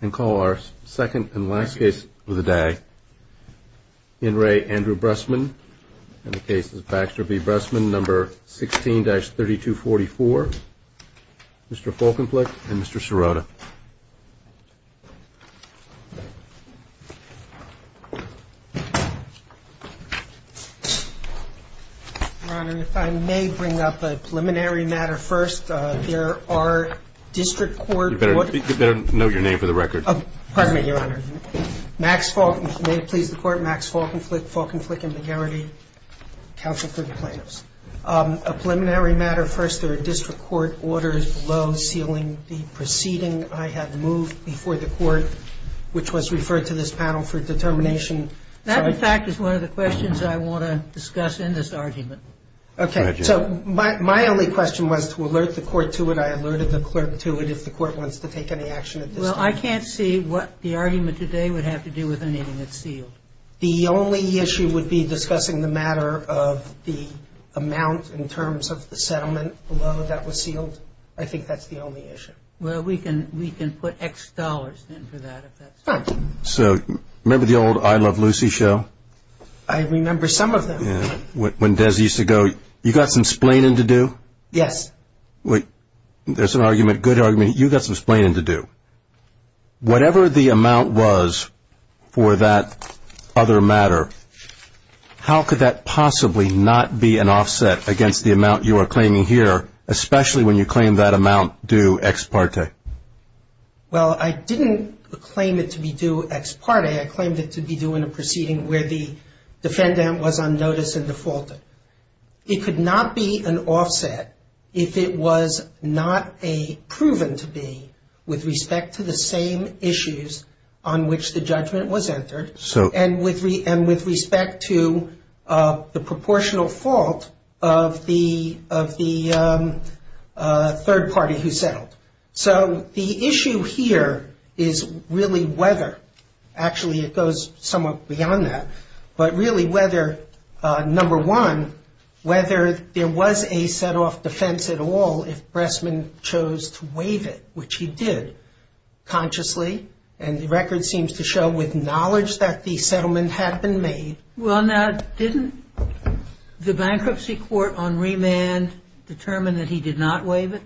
and call our second and last case of the day. Henry Andrew Bressman, and the case is Baxter v. Bressman, number 16-3244. Mr. Folkenflik and Mr. Sirota. Your Honor, if I may bring up a preliminary matter first, there are district court... You better note your name for the record. May it please the court, Max Folkenflik, Folkenflik and McGarrity, counsel for the plaintiffs. A preliminary matter first, there are district court orders below sealing the proceeding I have moved before the court, which was referred to this panel for determination... The fact is one of the questions I want to discuss in this argument. My only question was to alert the court to it. I alerted the clerk to it if the court wants to take any action. I can't see what the argument today would have to do with anything that's sealed. The only issue would be discussing the matter of the amount in terms of the settlement below that was sealed. I think that's the only issue. We can put X dollars in for that. Remember the old I Love Lucy show? You got some explaining to do? You got some explaining to do. Whatever the amount was for that other matter, how could that possibly not be an offset against the amount you are claiming here, especially when you claim that amount due ex parte? Well, I didn't claim it to be due ex parte. I claimed it to be due in a proceeding where the defendant was on notice of the fault. It could not be an offset if it was not a proven to be with respect to the same issues on which the judgment was held of the third party who settled. So the issue here is really whether, actually it goes somewhat beyond that, but really whether, number one, whether there was a set off defense at all if Bressman chose to waive it, which he did consciously, and the record seems to show with knowledge that the settlement had been made. Well, now, didn't the bankruptcy court on remand determine that he did not waive it?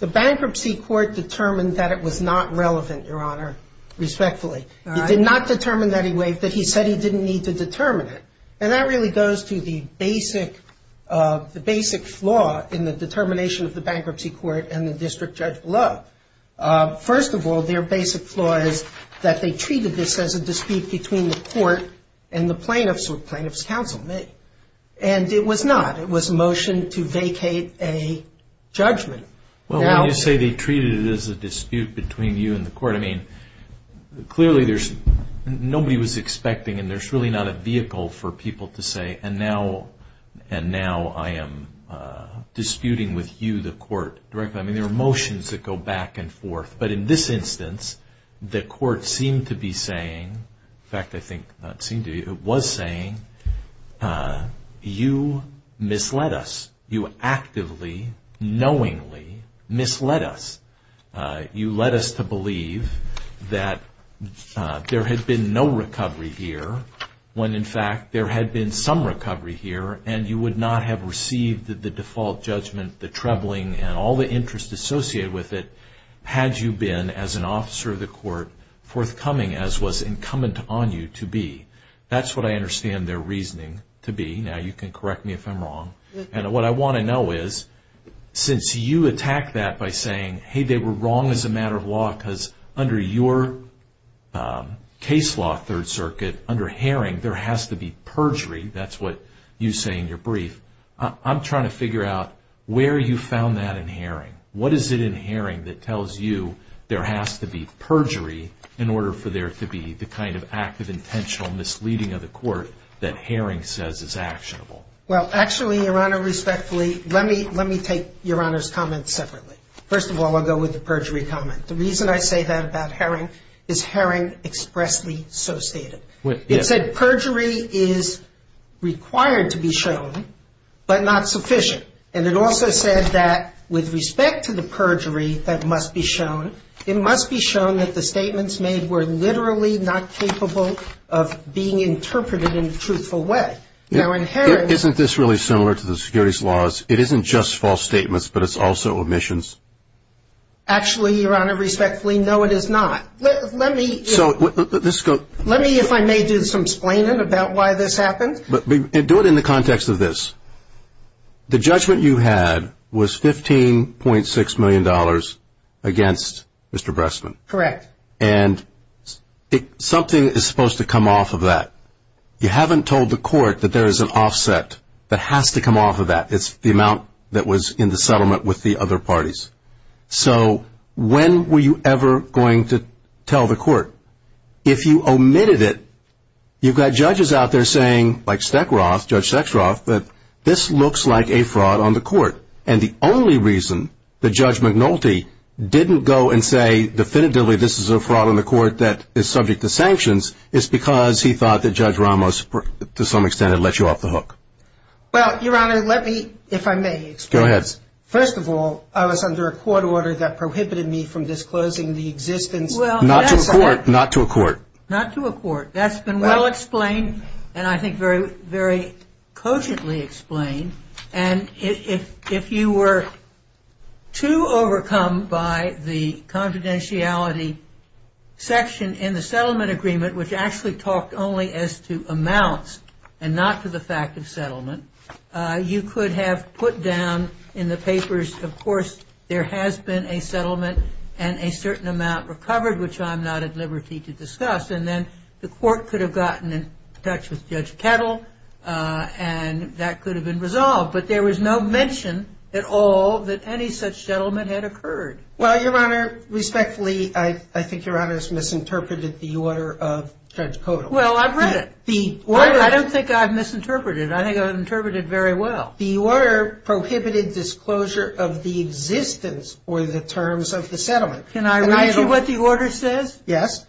The bankruptcy court determined that it was not relevant, Your Honor, respectfully. It did not determine that he waived it. He said he didn't need to determine it. And that really goes to the basic flaw in the determination of the bankruptcy court and the district judge below. First of all, their basic flaw is that they treated this as a dispute between the court and the plaintiff's counsel, and it was not. It was a motion to vacate a judgment. Well, when you say they treated it as a dispute between you and the court, I mean, clearly nobody was expecting, and there's really not a vehicle for people to say, and now I am disputing with you, the court, directly. I mean, there are motions that go back and forth, but in this instance, the court seemed to be saying, in fact, I think it was saying, you misled us. You actively, knowingly misled us. You led us to believe that there had been no recovery here, when, in fact, there had been some recovery here, and you would not have received the default judgment, the troubling, and all the interest associated with it had you been, as an officer of the court, forthcoming as was incumbent on you to be. That's what I understand their reasoning to be. Now, you can correct me if I'm wrong, and what I want to know is, since you attack that by saying, hey, they were wrong as a matter of law because under your case law, Third Circuit, under Herring, there has to be perjury, that's what you say in your brief, I'm trying to figure out where you found that in Herring. What is it in Herring that tells you there has to be perjury in order for there to be the kind of active intentional misleading of the court that Herring says is actionable? Well, actually, Your Honor, respectfully, let me take Your Honor's comment separately. First of all, I'll go with the perjury comment. The reason I say that about Herring is Herring expressly so stated. It said perjury is required to be shown, but not sufficient. And it also said that with respect to the perjury that must be shown, it must be shown that the statements made were literally not capable of being interpreted in a truthful way. Isn't this really similar to the securities laws? It isn't just false statements, but it's also omissions. Actually, Your Honor, respectfully, no it is not. Let me if I may do some explaining about why this happened. Do it in the context of this. The judgment you had was $15.6 million against Mr. Bressman. Correct. And something is supposed to come off of that. You haven't told the court that there is an offset that has to come off of that. It's the amount that was in the settlement with the other parties. So when were you ever going to tell the court? If you omitted it, you've got judges out there saying, like Steckroth, Judge Steckroth, that this looks like a fraud on the court. And the only reason that Judge McNulty didn't go and say definitively this is a fraud on the court that is subject to sanctions is because he thought that Judge Ramos, to some extent, had let you off the hook. Well, Your Honor, let me, if I may. Go ahead. First of all, I was under a court order that prohibited me from disclosing the existence. Not to a court. Not to a court. Not to a court. That's been well explained and I think very cogently explained. And if you were to overcome by the confidentiality section in the settlement agreement, which actually talked only as to amounts and not to the fact of settlement, you could have put down in the papers, of course, there has been a settlement and a certain amount recovered, which I'm not at liberty to discuss. And then the court could have gotten in touch with Judge Kettle and that could have been resolved. But there was no mention at all that any such settlement had occurred. Well, Your Honor, respectfully, I think Your Honor has misinterpreted the order of Judge Kettle. Well, I've read it. I don't think I've misinterpreted it. And I think I've interpreted it very well. The order prohibited disclosure of the existence or the terms of the settlement. Can I read what the order says? Yes.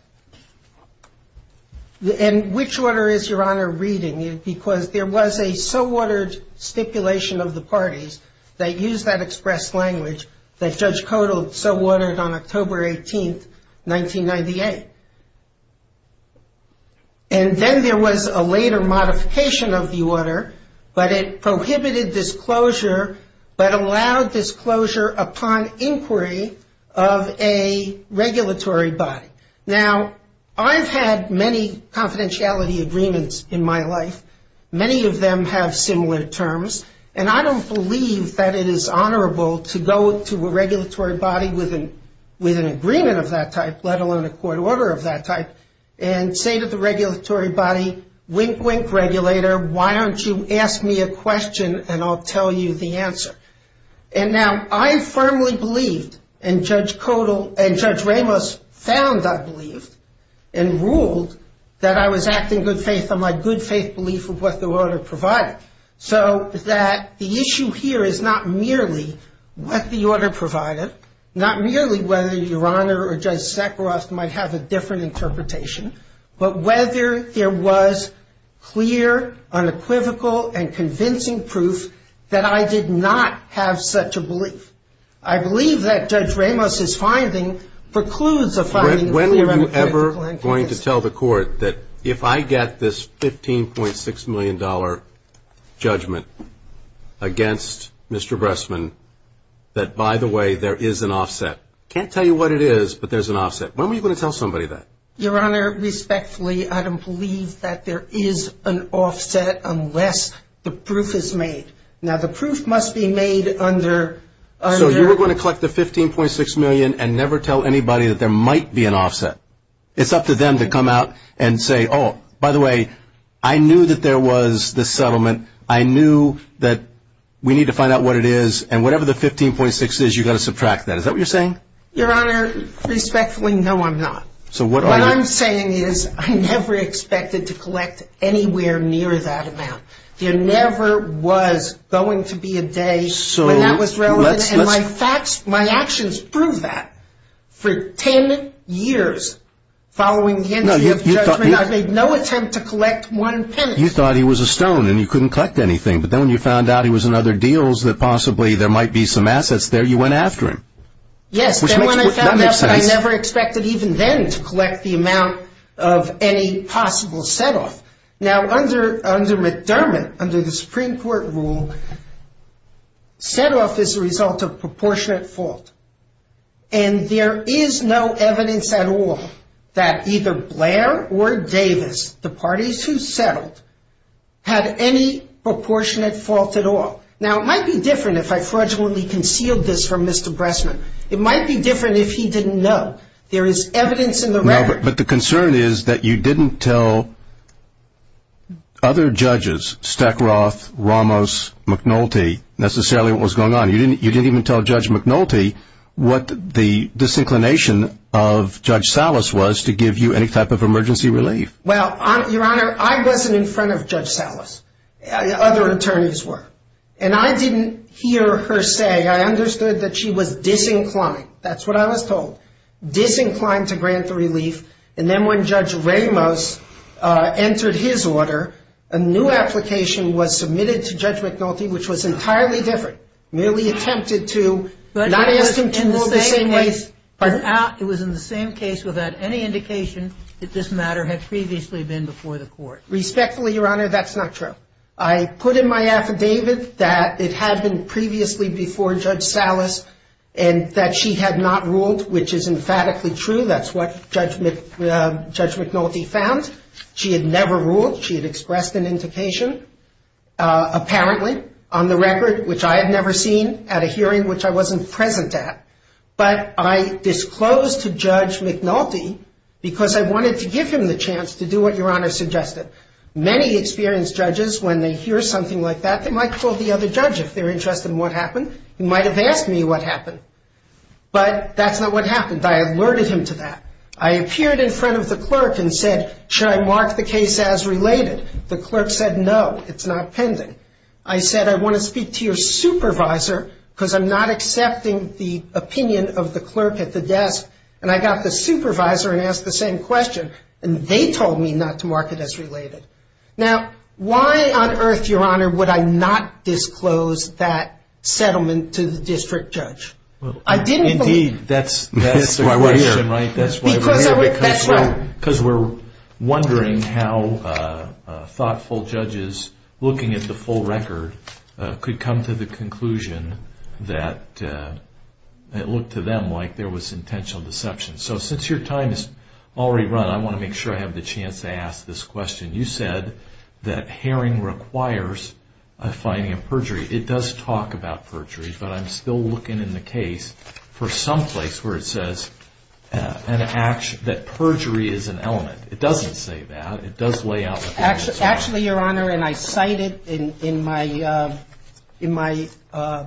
And which order is Your Honor reading? Because there was a so-ordered stipulation of the parties that used that express language that Judge Kettle so-ordered on October 18, 1998. Okay. And then there was a later modification of the order, but it prohibited disclosure but allowed disclosure upon inquiry of a regulatory body. Now, I've had many confidentiality agreements in my life. Many of them have similar terms. And I don't believe that it is honorable to go to a regulatory body with an agreement of that type, let alone a court order of that type, and say to the regulatory body, wink, wink, regulator, why don't you ask me a question and I'll tell you the answer. And now, I firmly believe, and Judge Kettle and Judge Ramos found, I believe, and ruled that I was acting good faith on my good faith belief of what the order provided. So that the issue here is not merely what the order provided, not merely whether Your Honor or Judge Zekros might have a different interpretation, but whether there was clear, unequivocal, and convincing proof that I did not have such a belief. I believe that Judge Ramos' finding precludes the finding of the regulatory body. When are you ever going to tell the court that if I get this $15.6 million judgment against Mr. Bressman, that, by the way, there is an offset? I can't tell you what it is, but there's an offset. When are you going to tell somebody that? Your Honor, respectfully, I don't believe that there is an offset unless the proof is made. Now, the proof must be made under. So you're going to collect the $15.6 million and never tell anybody that there might be an offset. It's up to them to come out and say, oh, by the way, I knew that there was this settlement. I knew that we need to find out what it is. And whatever the $15.6 is, you've got to subtract that. Is that what you're saying? Your Honor, respectfully, no, I'm not. What I'm saying is I never expected to collect anywhere near that amount. There never was going to be a day when that was relevant. And my actions prove that. For 10 years following his judgment, I made no attempt to collect one penny. You thought he was a stone and you couldn't collect anything. But then when you found out he was in other deals and that possibly there might be some assets there, you went after him. Yes. And when I found out, I never expected even then to collect the amount of any possible set-off. Now, under McDermott, under the Supreme Court rule, set-off is the result of proportionate fault. And there is no evidence at all that either Blair or Davis, the parties who settled, had any proportionate fault at all. Now, it might be different if I fraudulently concealed this from Mr. Bressman. It might be different if he didn't know. There is evidence in the record. But the concern is that you didn't tell other judges, Stackroth, Ramos, McNulty, necessarily what was going on. You didn't even tell Judge McNulty what the disinclination of Judge Salas was to give you any type of emergency relief. Well, Your Honor, I wasn't in front of Judge Salas. Other attorneys were. And I didn't hear her say. I understood that she was disinclined. That's what I was told. Disinclined to grant the relief. And then when Judge Ramos entered his order, a new application was submitted to Judge McNulty, which was entirely different. Merely attempted to not listen to more disinclination. But it was in the same case without any indication that this matter had previously been before the court. Respectfully, Your Honor, that's not true. I put in my affidavit that it had been previously before Judge Salas and that she had not ruled, which is emphatically true. That's what Judge McNulty found. She had never ruled. She had expressed an indication. Apparently, on the record, which I had never seen at a hearing which I wasn't present at. But I disclosed to Judge McNulty because I wanted to give him the chance to do what Your Honor suggested. Many experienced judges, when they hear something like that, they might call the other judge if they're interested in what happened. He might have asked me what happened. But that's not what happened. I alerted him to that. I appeared in front of the clerk and said, should I mark the case as related? The clerk said, no, it's not pending. I said, I want to speak to your supervisor because I'm not accepting the opinion of the clerk at the desk. And I got the supervisor and asked the same question. And they told me not to mark it as related. Now, why on earth, Your Honor, would I not disclose that settlement to the district judge? Indeed, that's my question. Because we're wondering how thoughtful judges looking at the full record could come to the conclusion that it looked to them like there was intentional deception. So since your time has already run, I want to make sure I have the chance to ask this question. You said that hearing requires a finding of perjury. It does talk about perjury. But I'm still looking in the case for some place where it says that perjury is an element. It doesn't say that. It does lay out. Actually, Your Honor, and I cited in my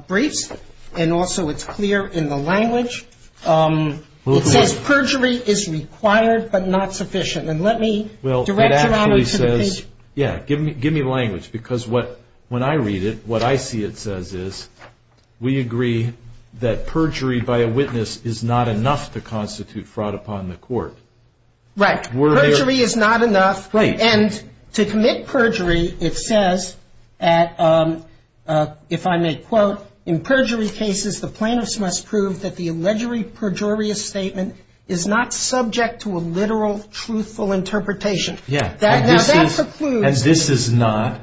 brief, and also it's clear in the language, perjury is required but not sufficient. And let me direct Your Honor to the page. Yeah, give me language. Because when I read it, what I see it says is we agree that perjury by a witness is not enough to constitute fraud upon the court. Right. Perjury is not enough. Right. And to commit perjury, it says, if I may quote, In perjury cases, the plaintiff must prove that the allegedly perjurious statement is not subject to a literal, truthful interpretation. That's a clue. And this is not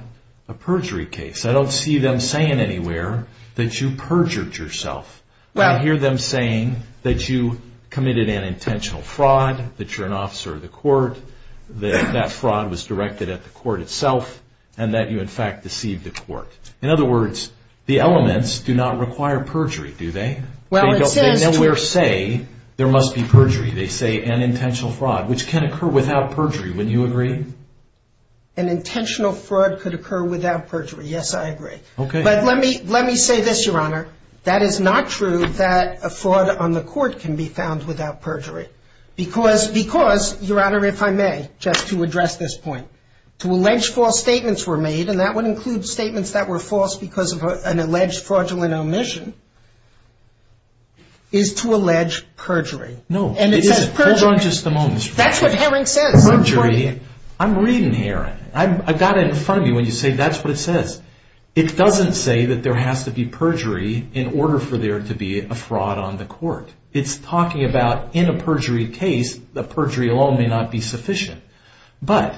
a perjury case. I don't see them saying anywhere that you perjured yourself. I hear them saying that you committed an intentional fraud, that you're an officer of the court, that that fraud was directed at the court itself, and that you, in fact, deceived the court. In other words, the elements do not require perjury, do they? They don't say there must be perjury. They say an intentional fraud, which can occur without perjury. Wouldn't you agree? An intentional fraud could occur without perjury. Yes, I agree. Okay. But let me say this, Your Honor. That is not true that a fraud on the court can be found without perjury. Because, Your Honor, if I may, just to address this point. To allege false statements were made, and that would include statements that were false because of an alleged fraudulent omission, is to allege perjury. No, it isn't. That's not just the moment. That's what Heron said. Perjury, I'm reading here. I've got it in front of me when you say that's what it says. It doesn't say that there has to be perjury in order for there to be a fraud on the court. It's talking about, in a perjury case, that perjury alone may not be sufficient. But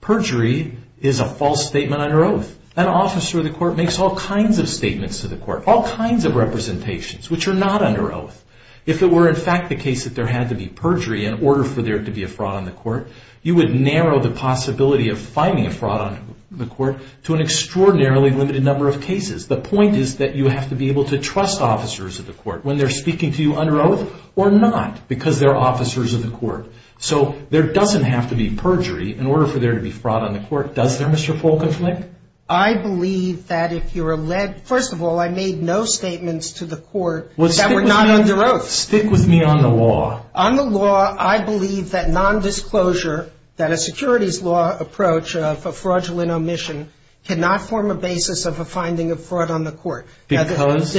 perjury is a false statement under oath. An officer of the court makes all kinds of statements to the court, all kinds of representations, which are not under oath. If it were, in fact, the case that there had to be perjury in order for there to be a fraud on the court, you would narrow the possibility of finding a fraud on the court to an extraordinarily limited number of cases. The point is that you have to be able to trust officers of the court when they're speaking to you under oath or not because they're officers of the court. So there doesn't have to be perjury in order for there to be fraud on the court, does there, Mr. Folkensnick? I believe that if you're led – first of all, I made no statements to the court that were not under oath. Stick with me on the law. On the law, I believe that nondisclosure, that a securities law approach of a fraudulent omission, cannot form a basis of a finding of fraud on the court. Because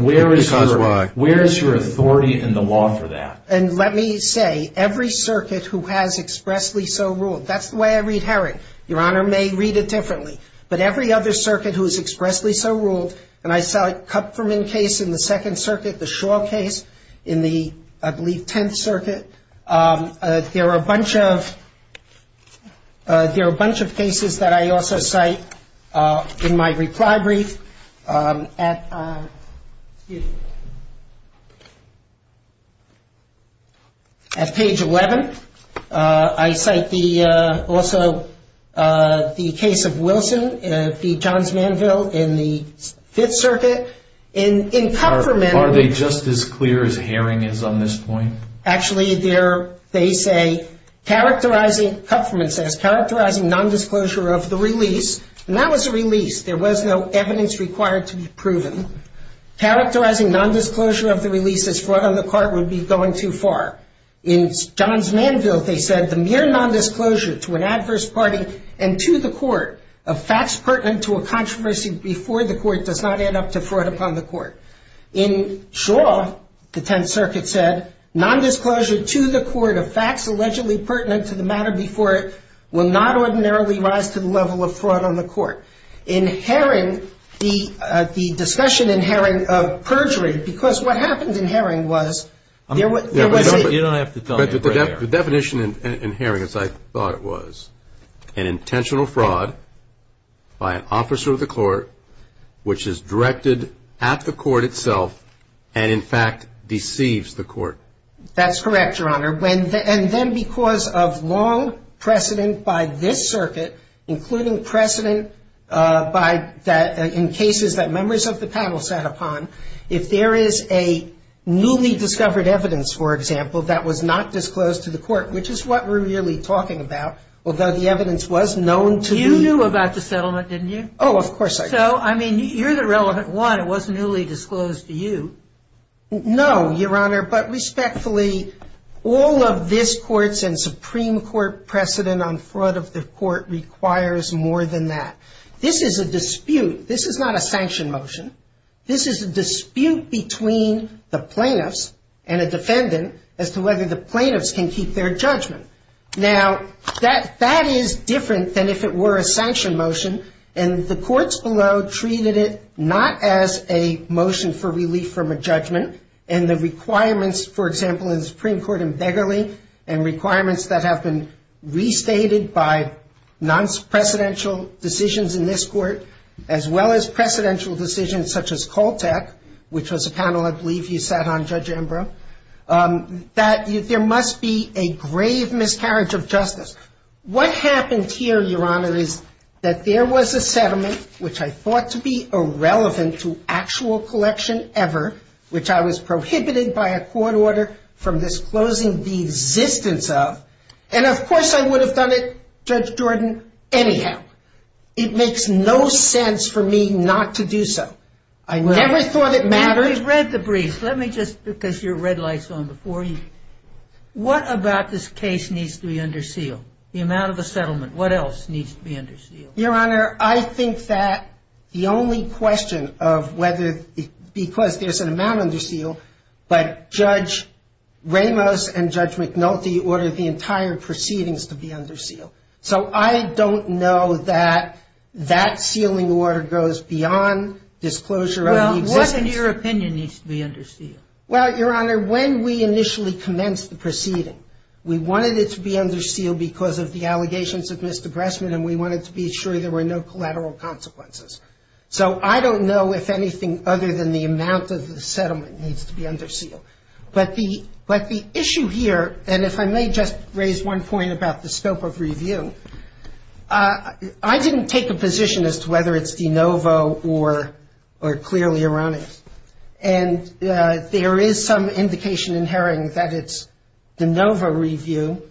where is your authority in the law for that? And let me say, every circuit who has expressly so ruled – that's the way I read Herring. Your Honor may read it differently. But every other circuit who has expressly so ruled – and I cite Kupferman case in the Second Circuit, the Shaw case in the, I believe, Tenth Circuit. There are a bunch of cases that I also cite in my reply brief at page 11. I cite also the case of Wilson, the Johns Manville in the Fifth Circuit. In Kupferman – Are they just as clear as Herring is on this point? Actually, they say, characterizing – Kupferman says, characterizing nondisclosure of the release – and that was a release. There was no evidence required to be proven. Characterizing nondisclosure of the release as fraud on the court would be going too far. In Johns Manville, they said, the mere nondisclosure to an adverse party and to the court of facts pertinent to a controversy before the court does not add up to fraud upon the court. In Shaw, the Tenth Circuit said, nondisclosure to the court of facts allegedly pertinent to the matter before it will not ordinarily rise to the level of fraud on the court. In Herring, the discussion in Herring of perjury, because what happened in Herring was – You don't have to tell me. The definition in Herring, as I thought it was, an intentional fraud by an officer of the court, which is directed at the court itself, and in fact, deceives the court. That's correct, Your Honor. And then because of long precedent by this circuit, including precedent in cases that members of the panel sat upon, if there is a newly discovered evidence, for example, that was not disclosed to the court, which is what we're really talking about, although the evidence was known to you. You knew about the settlement, didn't you? Oh, of course I did. So, I mean, you're the relevant one. It wasn't really disclosed to you. No, Your Honor, but respectfully, all of this court's and Supreme Court precedent on fraud of the court requires more than that. This is a dispute. This is not a sanction motion. This is a dispute between the plaintiffs and a defendant as to whether the plaintiffs can keep their judgment. Now, that is different than if it were a sanction motion, and the courts below treated it not as a motion for relief from a judgment, and the requirements, for example, in the Supreme Court in Begley, and requirements that have been restated by non-presidential decisions in this court, as well as presidential decisions such as Koltak, which was a panel I believe you sat on, Judge Ambrose, that there must be a grave miscarriage of justice. What happened here, Your Honor, is that there was a settlement, which I thought to be irrelevant to actual collection ever, which I was prohibited by a court order from disclosing the existence of, and of course I would have done it, Judge Jordan, anyhow. It makes no sense for me not to do so. I never thought it mattered. I read the brief. Let me just put those red lights on before you. What about this case needs to be under seal? The amount of the settlement. What else needs to be under seal? Your Honor, I think that the only question of whether, because there's an amount under seal, but Judge Ramos and Judge McNulty ordered the entire proceedings to be under seal. So I don't know that that sealing order goes beyond disclosure. Well, what, in your opinion, needs to be under seal? Well, Your Honor, when we initially commenced the proceeding, we wanted it to be under seal because of the allegations of misdepressment and we wanted to be sure there were no collateral consequences. So I don't know if anything other than the amount of the settlement needs to be under seal. But the issue here, and if I may just raise one point about the scope of review, I didn't take a position as to whether it's de novo or clearly erroneous. And there is some indication in Herring that it's de novo review.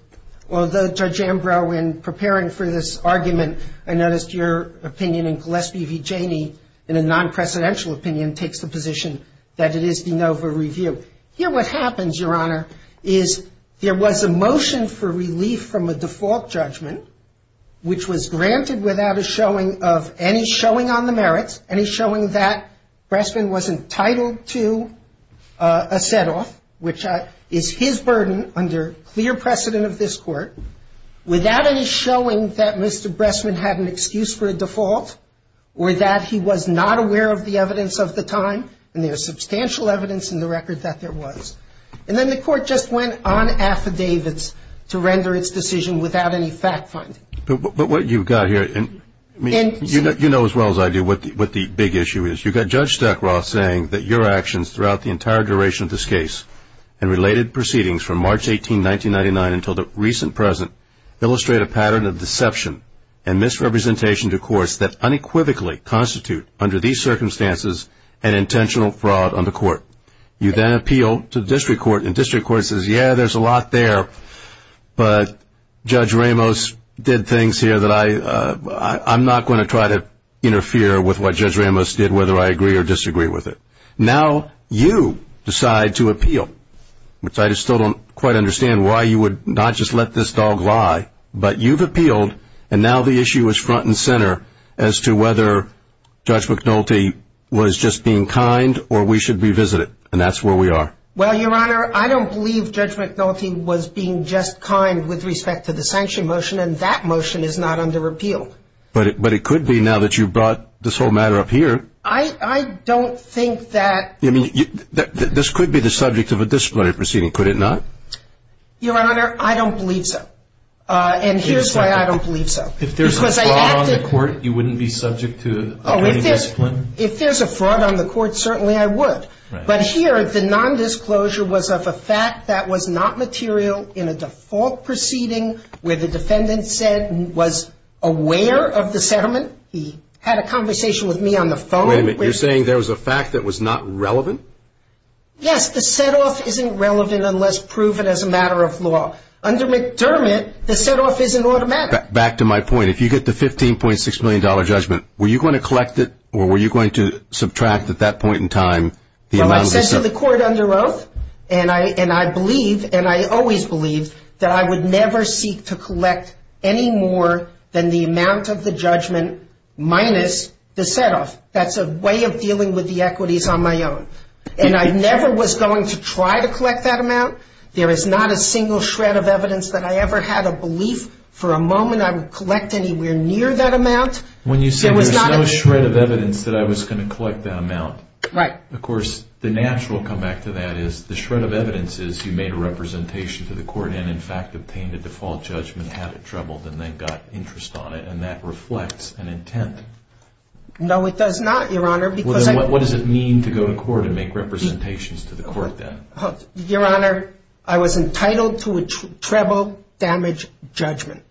Although, Judge Ambrow, in preparing for this argument, I noticed your opinion and Gillespie v. Janey, in a non-precedential opinion, takes the position that it is de novo review. Here what happens, Your Honor, is there was a motion for relief from a default judgment, which was granted without a showing of any showing on the merits, any showing that Bressman was entitled to a set-off, which is his burden under clear precedent of this Court, without any showing that Mr. Bressman had an excuse for a default or that he was not aware of the evidence of the time. And there is substantial evidence in the record that there was. And then the Court just went on affidavits to render its decision without any fact-finding. But what you've got here, and you know as well as I do what the big issue is. You've got Judge Stackroth saying that your actions throughout the entire duration of this case and related proceedings from March 18, 1999 until the recent present illustrate a pattern of deception and misrepresentation to courts that unequivocally constitute, under these circumstances, an intentional fraud on the Court. You then appeal to the District Court, and District Court says, yeah, there's a lot there, but Judge Ramos did things here that I'm not going to try to interfere with what Judge Ramos did, whether I agree or disagree with it. Now you decide to appeal, which I still don't quite understand why you would not just let this dog lie. But you've appealed, and now the issue is front and center as to whether Judge McNulty was just being kind or we should revisit it, and that's where we are. Well, Your Honor, I don't believe Judge McNulty was being just kind with respect to the sanction motion, and that motion is not under appeal. But it could be now that you've brought this whole matter up here. I don't think that. I mean, this could be the subject of a disciplinary proceeding, could it not? Your Honor, I don't believe so. And here's why I don't believe so. If there's a fraud on the Court, you wouldn't be subject to a disciplinary? If there's a fraud on the Court, certainly I would. But here, if the nondisclosure was of a fact that was not material in a default proceeding where the defendant said he was aware of the settlement, he had a conversation with me on the phone. Wait a minute. You're saying there was a fact that was not relevant? Yes. The set-off isn't relevant unless proven as a matter of law. Under McDermott, the set-off is an automatic. Back to my point. If you get the $15.6 million judgment, were you going to collect it, or were you going to subtract at that point in time the amount of the settlement? The Court underwrote, and I believe, and I always believe, that I would never seek to collect any more than the amount of the judgment minus the set-off. That's a way of dealing with the equities on my own. And I never was going to try to collect that amount. There is not a single shred of evidence that I ever had a belief for a moment I would collect anywhere near that amount. When you say there's no shred of evidence that I was going to collect that amount. Right. Of course, the natural comeback to that is the shred of evidence is you made a representation to the Court and, in fact, obtained a default judgment, had it trebled, and then got interest on it. And that reflects an intent. No, it does not, Your Honor. What does it mean to go to Court and make representations to the Court, then? Your Honor, I was entitled to a treble-damaged judgment.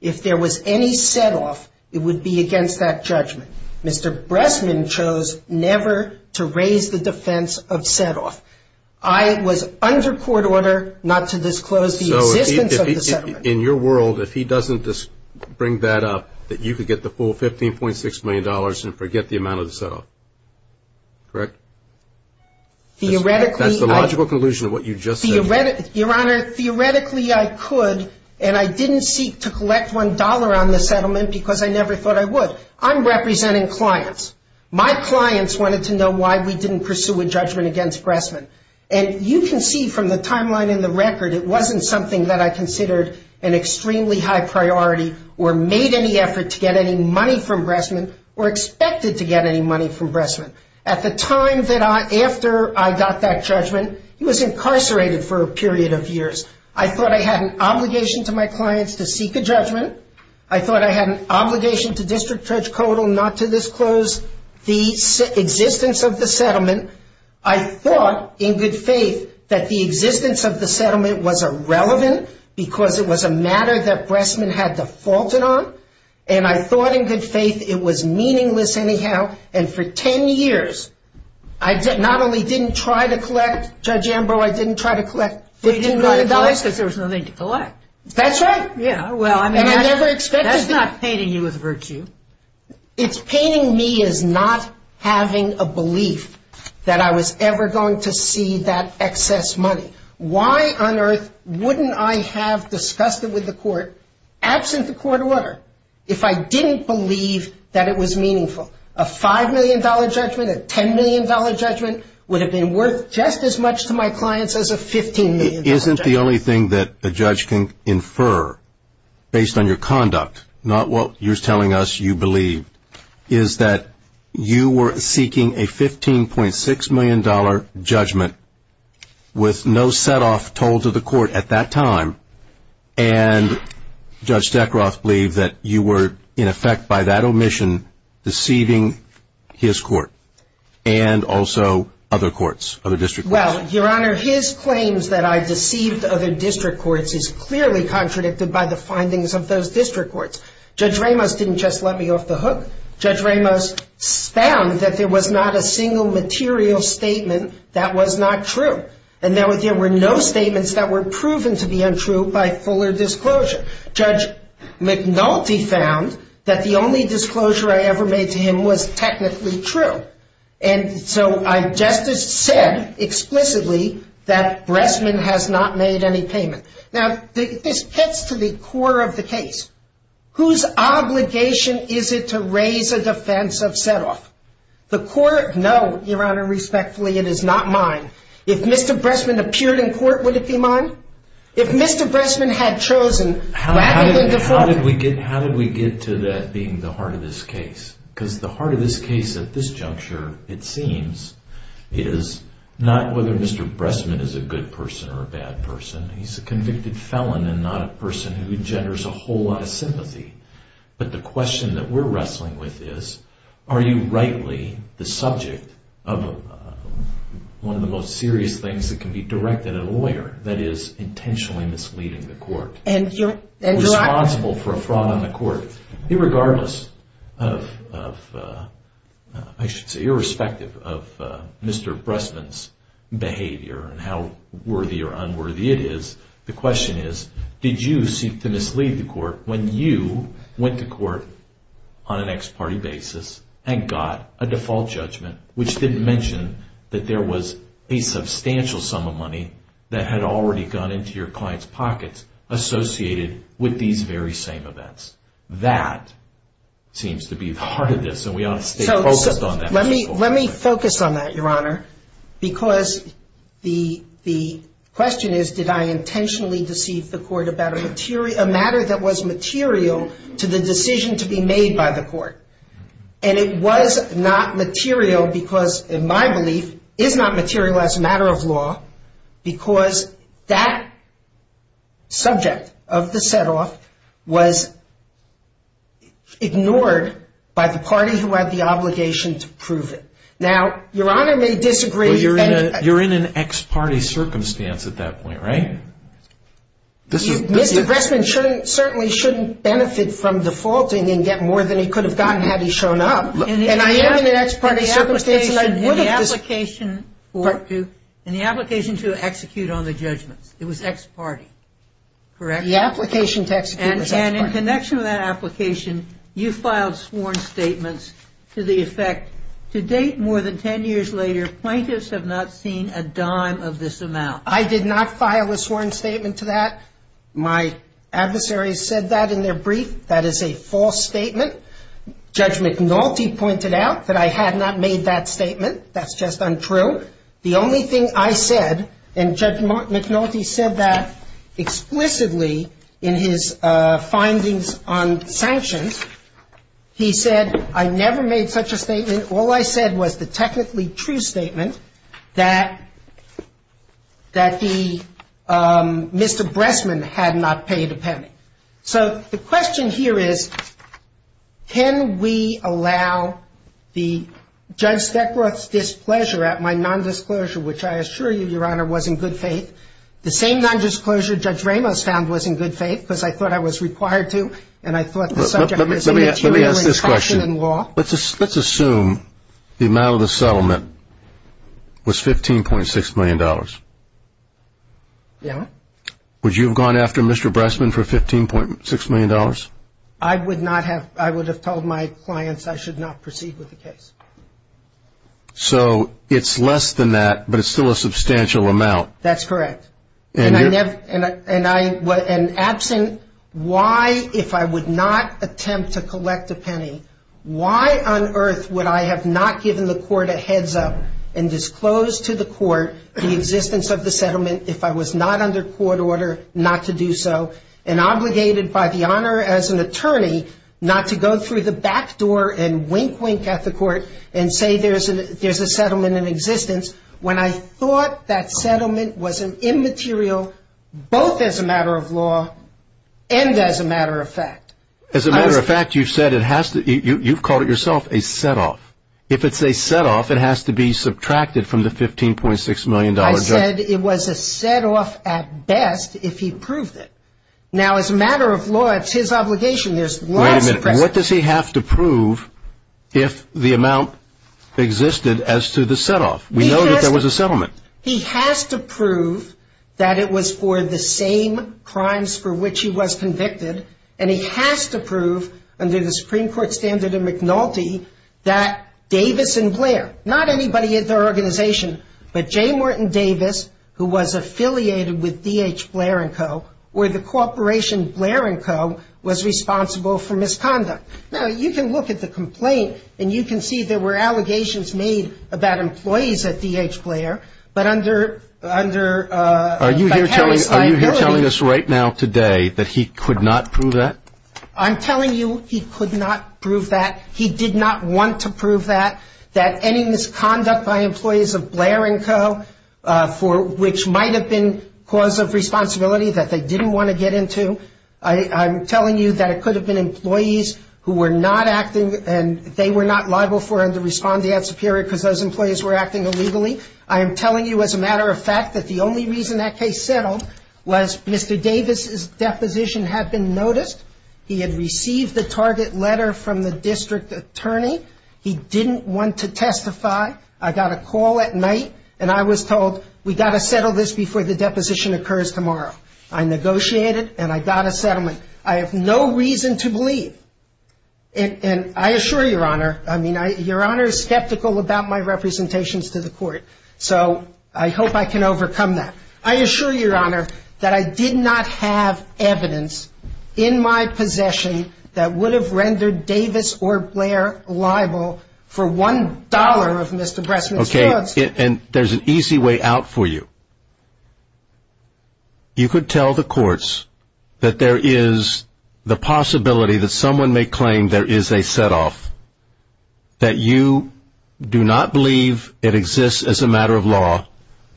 If there was any set-off, it would be against that judgment. Mr. Bressman chose never to raise the defense of set-off. I was under Court order not to disclose the existence of the set-off. So, in your world, if he doesn't bring that up, that you could get the full $15.6 million and forget the amount of the set-off. Correct? Theoretically, I... That's the logical conclusion of what you've just said. Your Honor, theoretically, I could, and I didn't seek to collect $1 on the settlement because I never thought I would. So, I'm representing clients. My clients wanted to know why we didn't pursue a judgment against Bressman. And you can see from the timeline in the record, it wasn't something that I considered an extremely high priority or made any effort to get any money from Bressman or expected to get any money from Bressman. At the time that I...after I got that judgment, he was incarcerated for a period of years. I thought I had an obligation to my clients to seek a judgment. I thought I had an obligation to District Judge Kodal not to disclose the existence of the settlement. I thought, in good faith, that the existence of the settlement was irrelevant because it was a matter that Bressman had defaulted on. And I thought, in good faith, it was meaningless anyhow. And for 10 years, I not only didn't try to collect, Judge Ambrose, I didn't try to collect $15 million. Because there was nothing to collect. That's right. Yeah, well, I mean, that's not painting you with virtue. It's painting me as not having a belief that I was ever going to see that excess money. Why on earth wouldn't I have discussed it with the court, absent the court order, if I didn't believe that it was meaningful? A $5 million judgment, a $10 million judgment would have been worth just as much to my clients as a $15 million judgment. Isn't the only thing that a judge can infer, based on your conduct, not what you're telling us you believe, is that you were seeking a $15.6 million judgment with no set-off told to the court at that time, and Judge Zekroff believed that you were, in effect, by that omission, deceiving his court and also other courts, other district courts. Well, Your Honor, his claims that I deceived other district courts is clearly contradicted by the findings of those district courts. Judge Ramos didn't just let me off the hook. Judge Ramos found that there was not a single material statement that was not true. And there were no statements that were proven to be untrue by fuller disclosure. Judge McNulty found that the only disclosure I ever made to him was technically true. And so I just said, explicitly, that Bressman has not made any payments. Now, this gets to the core of the case. Whose obligation is it to raise a defense of set-off? The court knows, Your Honor, respectfully, it is not mine. If Mr. Bressman appeared in court, would it be mine? If Mr. Bressman had chosen, that would be the court. How did we get to that being the heart of this case? Because the heart of this case at this juncture, it seems, is not whether Mr. Bressman is a good person or a bad person. He's a convicted felon and not a person who engenders a whole lot of sympathy. But the question that we're wrestling with is, are you rightly the subject of one of the most serious things that can be directed at a lawyer that is intentionally misleading the court? Responsible for a fraud on the court. Irregardless of, I should say, irrespective of Mr. Bressman's behavior and how worthy or unworthy it is, the question is, did you seek to mislead the court when you went to court on an ex parte basis and got a default judgment, which didn't mention that there was a substantial sum of money that had already gone into your client's pocket associated with these very same events? That seems to be the heart of this, and we ought to stay focused on that. Let me focus on that, Your Honor, because the question is, did I intentionally deceive the court about a matter that was material to the decision to be made by the court? And it was not material because, in my belief, it's not material as a matter of law because that subject of the setoff was ignored by the party who had the obligation to prove it. Now, Your Honor may disagree. You're in an ex parte circumstance at that point, right? Mr. Bressman certainly shouldn't benefit from defaulting and get more than he could have gotten had he shown up. In the application to execute on the judgment, it was ex parte, correct? The application to execute on the judgment. And in connection with that application, you filed sworn statements to the effect, to date, more than 10 years later, plaintiffs have not seen a dime of this amount. I did not file a sworn statement to that. My adversaries said that in their brief. That is a false statement. Judge McNulty pointed out that I had not made that statement. That's just untrue. The only thing I said, and Judge McNulty said that explicitly in his findings on sanctions, he said, I never made such a statement. All I said was the technically true statement that the, Mr. Bressman had not paid a penny. So the question here is, can we allow the judge's displeasure at my nondisclosure, which I assure you, Your Honor, was in good faith. The same nondisclosure Judge Ramos found was in good faith because I thought I was required to. Let me ask this question. Let's assume the amount of the settlement was $15.6 million. Yeah. Would you have gone after Mr. Bressman for $15.6 million? I would not have. I would have told my clients I should not proceed with the case. So it's less than that, but it's still a substantial amount. That's correct. And absent, why, if I would not attempt to collect a penny, why on earth would I have not given the court a heads-up and disclosed to the court the existence of the settlement if I was not under court order not to do so, and obligated by the Honor as an attorney not to go through the back door and wink-wink at the court and say there's a settlement in existence, when I thought that settlement was an immaterial both as a matter of law and as a matter of fact? As a matter of fact, you've called it yourself a set-off. If it's a set-off, it has to be subtracted from the $15.6 million. I said it was a set-off at best if he proves it. Now, as a matter of law, it's his obligation. Wait a minute. What does he have to prove if the amount existed as to the set-off? We know that there was a settlement. He has to prove that it was for the same crimes for which he was convicted, and he has to prove under the Supreme Court standard of McNulty that Davis and Blair, not anybody in their organization, but J. Morton Davis, who was affiliated with D.H. Blair & Co., or the corporation Blair & Co. was responsible for misconduct. Now, you can look at the complaint, and you can see there were allegations made about employees at D.H. Blair, but under the Are you here telling us right now today that he could not prove that? I'm telling you he could not prove that. He did not want to prove that, that any misconduct by employees of Blair & Co., which might have been cause of responsibility that they didn't want to get into, I'm telling you that it could have been employees who were not acting, and they were not liable for him to respond to that superior because those employees were acting illegally. I am telling you as a matter of fact that the only reason that case settled was Mr. Davis' deposition had been noticed. He had received the target letter from the district attorney. He didn't want to testify. I got a call at night, and I was told, we've got to settle this before the deposition occurs tomorrow. I negotiated, and I got a settlement. I have no reason to believe, and I assure Your Honor, I mean, Your Honor is skeptical about my representations to the court, so I hope I can overcome that. I assure Your Honor that I did not have evidence in my possession that would have rendered Davis or Blair liable for $1 of Mr. Bressman's goods. Okay, and there's an easy way out for you. You could tell the courts that there is the possibility that someone may claim there is a setoff, that you do not believe it exists as a matter of law,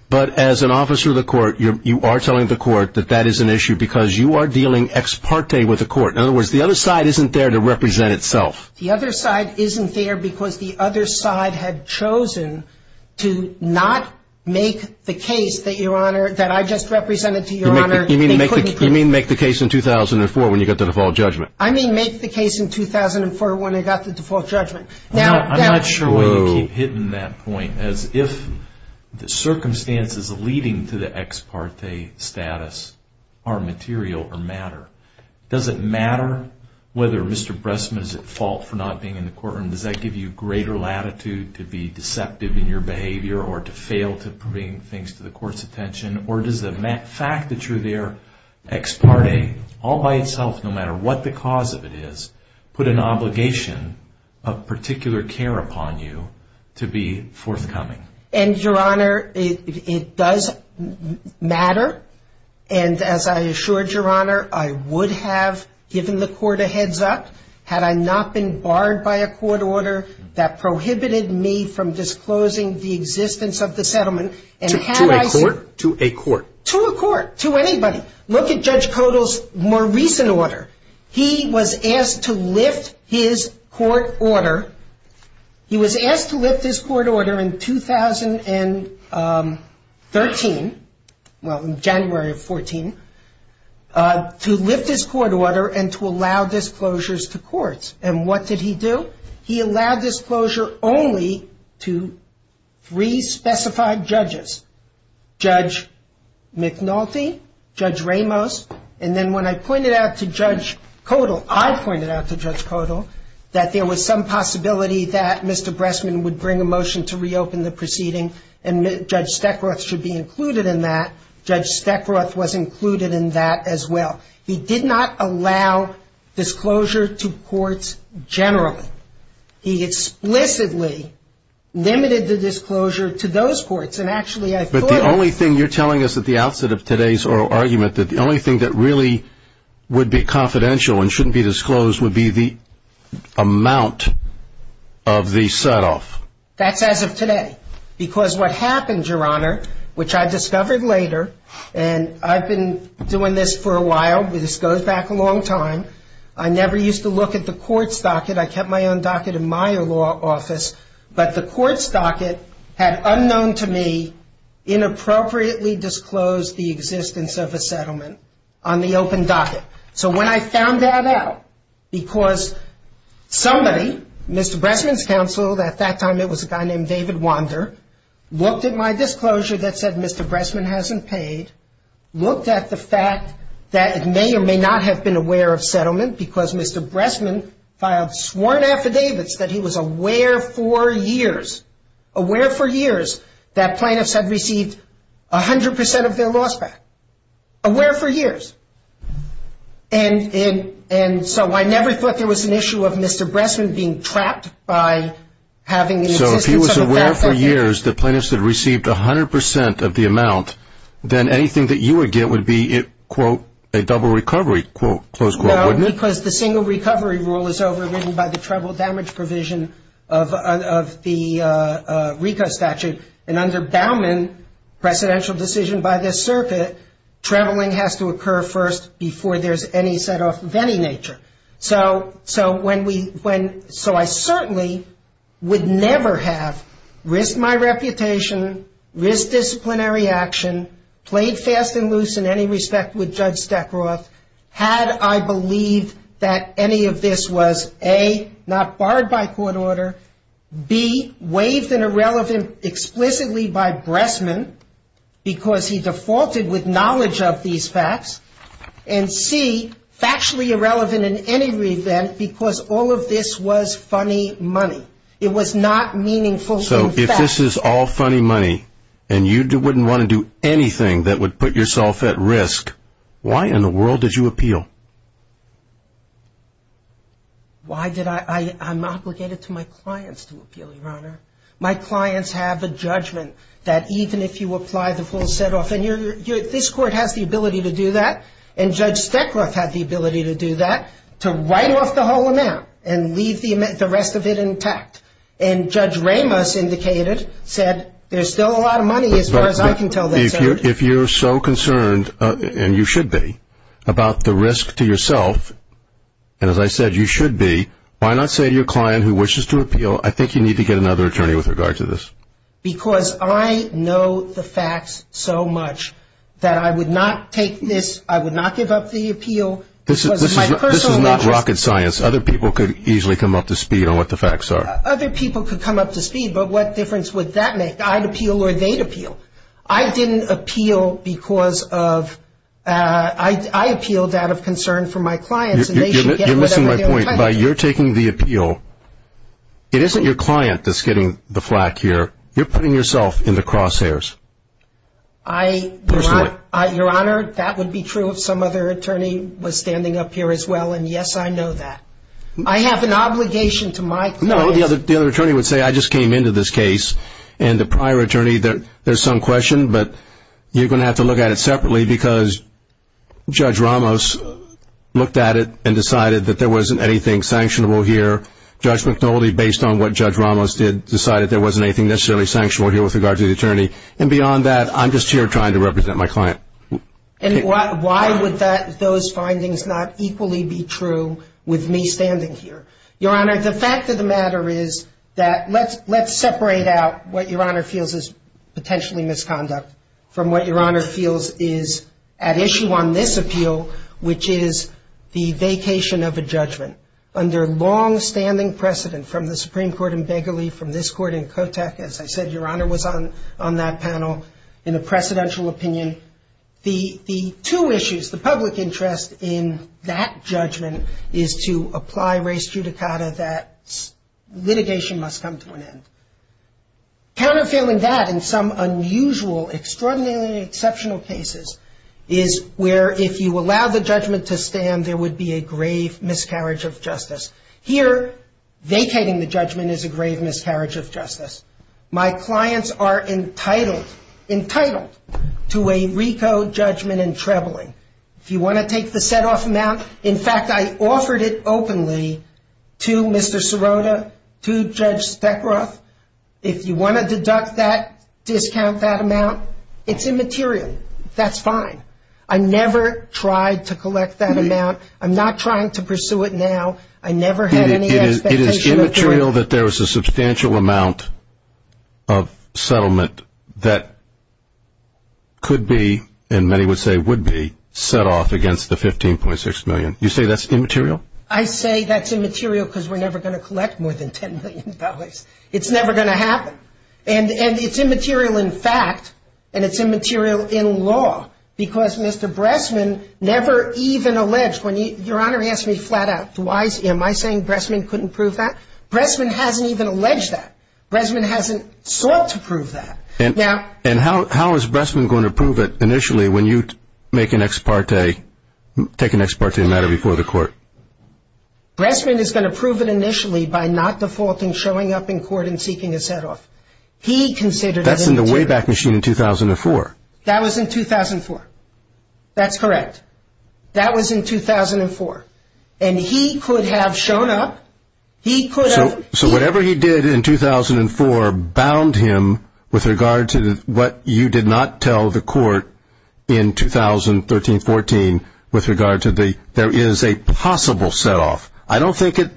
but as an officer of the court, you are telling the court that that is an issue because you are dealing ex parte with the court. In other words, the other side isn't there to represent itself. The other side isn't there because the other side had chosen to not make the case that Your Honor, that I just represented to Your Honor. You mean make the case in 2004 when you got the default judgment? I mean make the case in 2004 when I got the default judgment. I'm not sure whether you've hidden that point, as if the circumstances leading to the ex parte status are material or matter. Does it matter whether Mr. Bressman is at fault for not being in the courtroom? Does that give you greater latitude to be deceptive in your behavior or to fail to bring things to the court's attention? Or does the fact that you're there ex parte all by itself, no matter what the cause of it is, put an obligation of particular care upon you to be forthcoming? And Your Honor, it does matter. And as I assured Your Honor, I would have given the court a heads up had I not been barred by a court order that prohibited me from disclosing the existence of the settlement. To a court? To a court. To a court. To anybody. Look at Judge Kodal's more recent order. He was asked to lift his court order. He was asked to lift his court order in 2013, well January of 2014, to lift his court order and to allow disclosures to courts. And what did he do? He allowed disclosure only to three specified judges, Judge McNulty, Judge Ramos, and then when I pointed out to Judge Kodal, I pointed out to Judge Kodal, that there was some possibility that Mr. Bressman would bring a motion to reopen the proceeding and Judge Steckroth should be included in that. Judge Steckroth was included in that as well. He did not allow disclosure to courts generally. He explicitly limited the disclosure to those courts. And actually I thought... But the only thing you're telling us at the outset of today's oral argument, that the only thing that really would be confidential and shouldn't be disclosed would be the amount of the set-off. That's as of today. Because what happens, Your Honor, which I discovered later, and I've been doing this for a while, this goes back a long time, I never used to look at the court's docket, I kept my own docket in my law office, but the court's docket had, unknown to me, inappropriately disclosed the existence of the settlement on the open docket. So when I found that out, because somebody, Mr. Bressman's counsel, at that time it was a guy named David Wander, looked at my disclosure that said Mr. Bressman hasn't paid, looked at the fact that it may or may not have been aware of settlement, because Mr. Bressman filed sworn affidavits that he was aware for years, aware for years that plaintiffs had received 100% of their loss back. Aware for years. And so I never thought there was an issue of Mr. Bressman being trapped by having... So if he was aware for years that plaintiffs had received 100% of the amount, then anything that you would get would be, quote, a double recovery, close quote, wouldn't it? Because the single recovery rule is overridden by the treble damage provision of the RICO statute, and under Bauman's presidential decision by the circuit, trebling has to occur first before there's any set-off of any nature. So I certainly would never have risked my reputation, risked disciplinary action, played fast and loose in any respect with Judge Stackroth had I believed that any of this was, A, not barred by court order, B, waived and irrelevant explicitly by Bressman because he defaulted with knowledge of these facts, and C, factually irrelevant in any reason because all of this was funny money. It was not meaningful. So if this is all funny money and you wouldn't want to do anything that would put yourself at risk, why in the world did you appeal? Why did I? I'm obligated to my clients to appeal, Your Honor. My clients have the judgment that even if you apply the full set-off, and this court has the ability to do that, and Judge Stackroth had the ability to do that, to write off the whole amount and leave the rest of it intact. And Judge Ramos indicated that there's still a lot of money as far as I can tell. If you're so concerned, and you should be, about the risk to yourself, and as I said, you should be, why not say to your client who wishes to appeal, I think you need to get another attorney with regard to this? Because I know the facts so much that I would not take this, I would not give up the appeal. This is not rocket science. Other people could easily come up to speed on what the facts are. Other people could come up to speed, but what difference would that make? I'd appeal or they'd appeal. I didn't appeal because of – I appealed out of concern for my clients. You're missing my point. By your taking the appeal, it isn't your client that's getting the flak here. You're putting yourself in the crosshairs. Your Honor, that would be true if some other attorney was standing up here as well. And, yes, I know that. I have an obligation to my client. No, the other attorney would say, I just came into this case. And the prior attorney, there's some question, but you're going to have to look at it separately because Judge Ramos looked at it and decided that there wasn't anything sanctionable here. Judge McTolley, based on what Judge Ramos did, decided there wasn't anything necessarily sanctionable here with regard to the attorney. And beyond that, I'm just here trying to represent my client. And why would those findings not equally be true with me standing here? Your Honor, the fact of the matter is that let's separate out what Your Honor feels is potentially misconduct from what Your Honor feels is at issue on this appeal, which is the vacation of a judgment. Under longstanding precedent from the Supreme Court in Begley, from this Court in Kotak, as I said, Your Honor was on that panel in a precedential opinion. The two issues, the public interest in that judgment is to apply res judicata that litigation must come to an end. Counterfeiting that in some unusual, extraordinarily exceptional cases is where, if you allow the judgment to stand, there would be a grave miscarriage of justice. Here, vacating the judgment is a grave miscarriage of justice. My clients are entitled to a RICO judgment in Trebling. If you want to take the set-off amount, in fact, I offered it openly to Mr. Sirota, to Judge Speckroth. If you want to deduct that, discount that amount, it's immaterial. That's fine. I never tried to collect that amount. I'm not trying to pursue it now. I never had any expectations. It is immaterial that there is a substantial amount of settlement that could be, and many would say would be, set off against the $15.6 million. You say that's immaterial? I say that's immaterial because we're never going to collect more than $10 million. It's never going to happen. And it's immaterial in fact, and it's immaterial in law, because Mr. Bressman never even alleged. Your Honor, he asked me flat out, am I saying Bressman couldn't prove that? Bressman hasn't even alleged that. Bressman hasn't sought to prove that. And how is Bressman going to prove it initially when you make an ex parte, take an ex parte matter before the court? Bressman is going to prove it initially by not defaulting, showing up in court and seeking a set-off. That's in the Wayback Machine in 2004. That was in 2004. That's correct. That was in 2004. And he could have shown up. He could have. So whatever he did in 2004 bound him with regard to what you did not tell the court in 2013-14 with regard to there is a possible set-off. I don't think it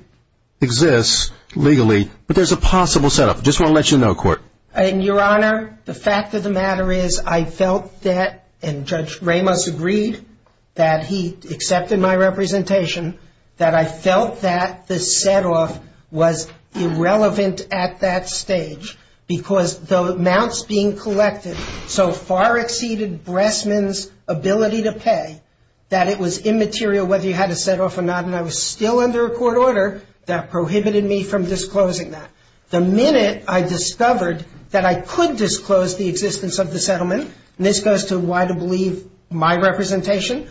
exists legally, but there's a possible set-off. I just want to let you know, court. Your Honor, the fact of the matter is I felt that, and Judge Ramos agreed that he accepted my representation, that I felt that the set-off was irrelevant at that stage because the amounts being collected so far exceeded Bressman's ability to pay that it was immaterial whether he had a set-off or not, and I was still under a court order that prohibited me from disclosing that. The minute I discovered that I could disclose the existence of the settlement, and this goes to why I believe my representation,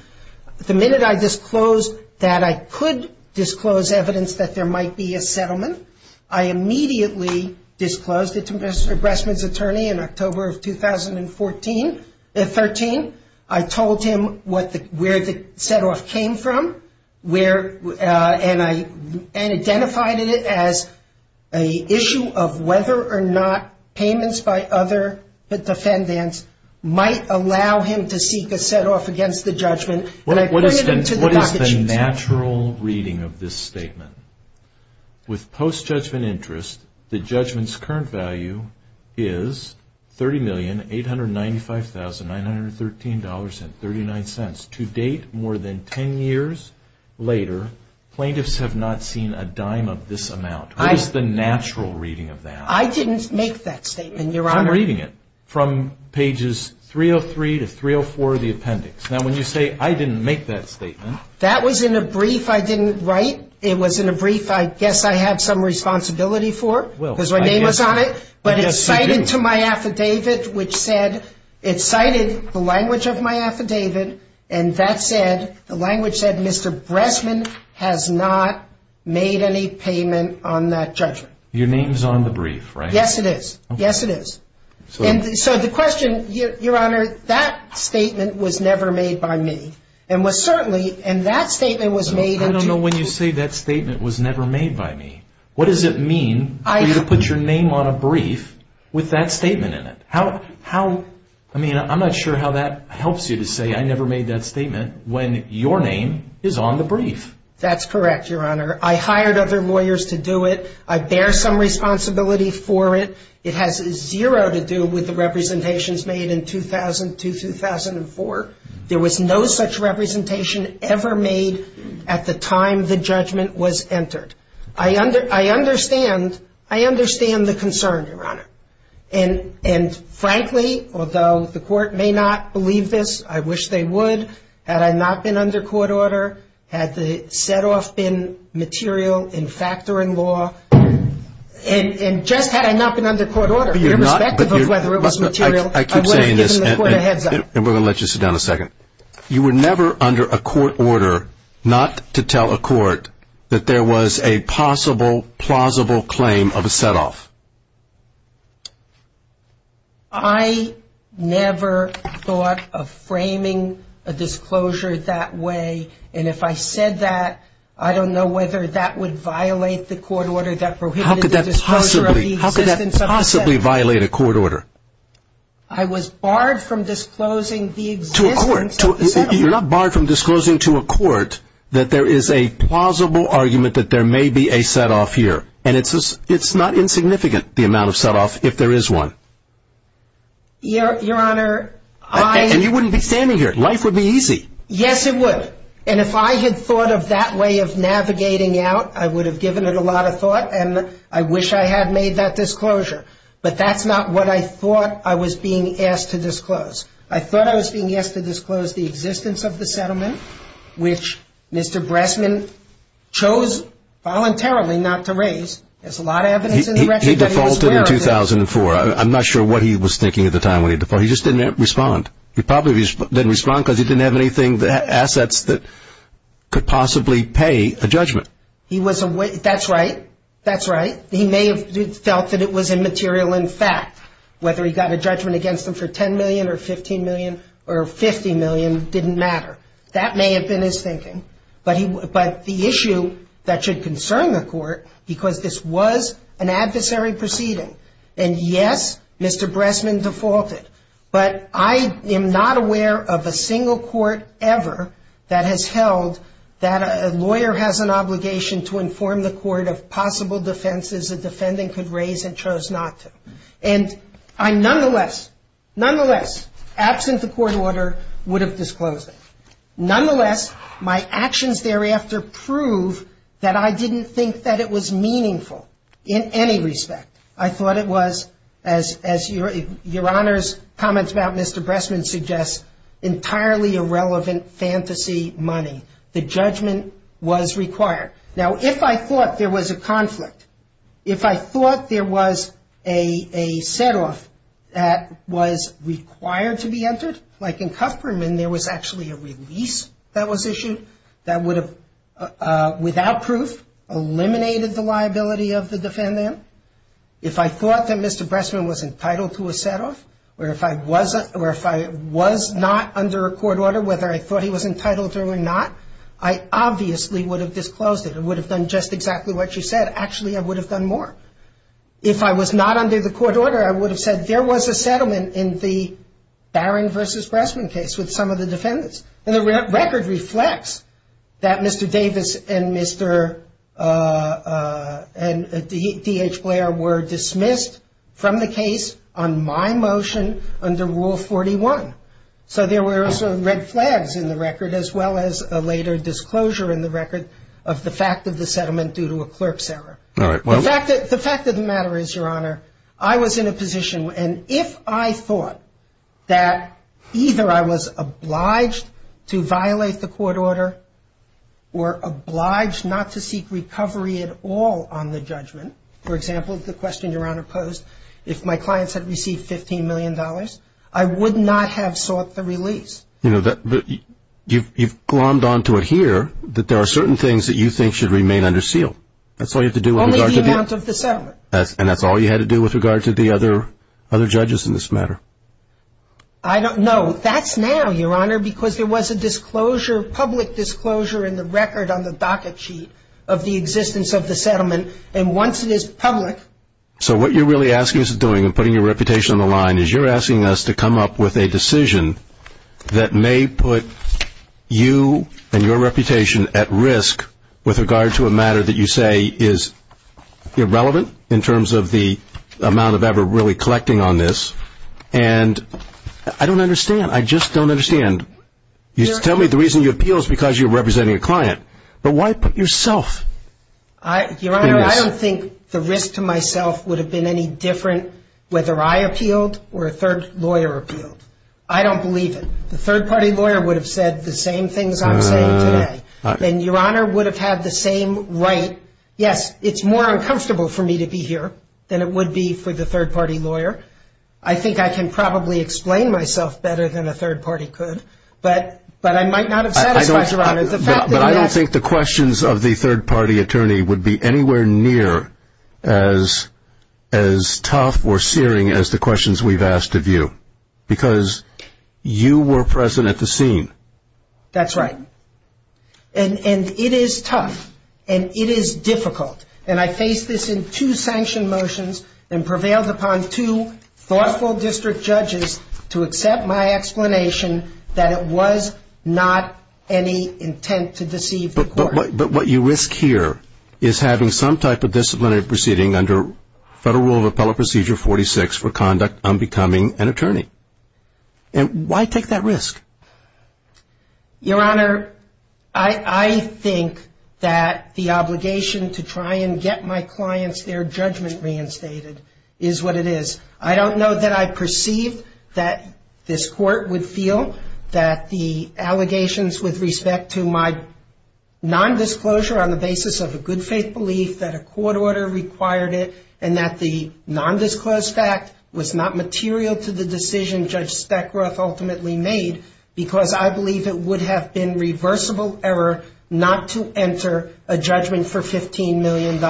the minute I disclosed that I could disclose evidence that there might be a settlement, I immediately disclosed it to Mr. Bressman's attorney in October of 2014-13. I told him where the set-off came from and identified it as an issue of whether or not payments by other defendants might allow him to seek a set-off against the judgment. What is the natural reading of this statement? With post-judgment interest, the judgment's current value is $30,895,913.39. To date, more than 10 years later, plaintiffs have not seen a dime of this amount. What is the natural reading of that? I didn't make that statement, Your Honor. I'm reading it from pages 303 to 304 of the appendix. Now, when you say, I didn't make that statement... That was in a brief I didn't write. It was in a brief I guess I had some responsibility for, because my name was on it. But it's cited to my affidavit, which said, it cited the language of my affidavit, and that said, the language said, Mr. Bressman has not made any payment on that judgment. Your name's on the brief, right? Yes, it is. Yes, it is. So the question, Your Honor, that statement was never made by me. And what certainly, and that statement was made... I don't know why you say that statement was never made by me. What does it mean for you to put your name on a brief with that statement in it? How, I mean, I'm not sure how that helps you to say, I never made that statement, when your name is on the brief. That's correct, Your Honor. I hired other lawyers to do it. I bear some responsibility for it. It has zero to do with the representations made in 2000 to 2004. There was no such representation ever made at the time the judgment was entered. I understand, I understand the concern, Your Honor. And frankly, although the court may not believe this, I wish they would, had I not been under court order, had the set-off been material in fact or in law, and just had I not been under court order, irrespective of whether it was material... I keep saying this, and we're going to let you sit down a second. You were never under a court order not to tell a court that there was a possible, plausible claim of a set-off. I never thought of framing a disclosure that way, and if I said that, I don't know whether that would violate the court order that prohibited the disclosure of the existence of a set-off. How could that possibly violate a court order? I was barred from disclosing the existence of a set-off. You're not barred from disclosing to a court that there is a plausible argument that there may be a set-off here, and it's not insignificant, the amount of set-off, if there is one. Your Honor, I... And you wouldn't be standing here. Life would be easy. Yes, it would. And if I had thought of that way of navigating out, I would have given it a lot of thought, and I wish I had made that disclosure. But that's not what I thought I was being asked to disclose. I thought I was being asked to disclose the existence of the settlement, which Mr. Bressman chose voluntarily not to raise. There's a lot of evidence in the record... He defaulted in 2004. I'm not sure what he was thinking at the time when he defaulted. He just didn't respond. He probably didn't respond because he didn't have any assets that could possibly pay a judgment. That's right. That's right. He may have felt that it was immaterial in fact. Whether he got a judgment against him for $10 million or $15 million or $50 million didn't matter. That may have been his thinking. But the issue that should concern the court, because this was an adversary proceeding, and, yes, Mr. Bressman defaulted. But I am not aware of a single court ever that has held that a lawyer has an obligation to inform the court of possible defenses the defendant could raise and chose not to. And I nonetheless, nonetheless, absent the court order, would have disclosed it. Nonetheless, my actions thereafter prove that I didn't think that it was meaningful in any respect. I thought it was, as Your Honor's comments about Mr. Bressman suggest, entirely irrelevant fantasy money. The judgment was required. Now, if I thought there was a conflict, if I thought there was a set-off that was required to be entered, like in Kupferman there was actually a release that was issued that would have, without proof, eliminated the liability of the defendant, if I thought that Mr. Bressman was entitled to a set-off, or if I wasn't, or if I was not under a court order, whether I thought he was entitled to it or not, I obviously would have disclosed it. It would have been just exactly what you said. Actually, I would have done more. If I was not under the court order, I would have said, there was a settlement in the Barron versus Bressman case with some of the defendants. And the record reflects that Mr. Davis and D.H. Blair were dismissed from the case on my motion under Rule 41. So there were some red flags in the record, as well as a later disclosure in the record, of the fact of the settlement due to a clerk's error. The fact of the matter is, Your Honor, I was in a position, and if I thought that either I was obliged to violate the court order or obliged not to seek recovery at all on the judgment, for example, the question Your Honor posed, if my clients had received $15 million, I would not have sought the release. You've glommed onto it here that there are certain things that you think should remain under seal. Only the amount of the settlement. And that's all you had to do with regard to the other judges in this matter? I don't know. That's now, Your Honor, because there was a disclosure, public disclosure, in the record on the docket sheet of the existence of the settlement. And once it is public... So what you're really asking us to do in putting your reputation on the line is you're asking us to come up with a decision that may put you and your reputation at risk with regard to a matter that you say is irrelevant in terms of the amount of ever really collecting on this. And I don't understand. I just don't understand. Tell me the reason you appeal is because you're representing a client. But why put yourself? Your Honor, I don't think the risk to myself would have been any different whether I appealed or a third lawyer appealed. I don't believe it. The third party lawyer would have said the same things I'm about to say. And Your Honor would have had the same right. Yes, it's more uncomfortable for me to be here than it would be for the third party lawyer. I think I can probably explain myself better than a third party could. But I might not have satisfied Your Honor. But I don't think the questions of the third party attorney would be anywhere near as tough or searing as the questions we've asked of you. Because you were present at the scene. That's right. And it is tough. And it is difficult. And I faced this in two sanction motions and prevailed upon two law school district judges to accept my explanation that it was not any intent to deceive the court. But what you risk here is having some type of disciplinary proceeding under Federal Rule of Appellate Procedure 46 for conduct on becoming an attorney. And why take that risk? Your Honor, I think that the obligation to try and get my client's fair judgment reinstated is what it is. I don't know that I perceived that this court would feel that the allegations with respect to my nondisclosure on the basis of a good faith belief that a court order required it, and that the nondisclosed fact was not material to the decision Judge Speckroth ultimately made, because I believe it would have been reversible error not to enter a judgment for $15 million.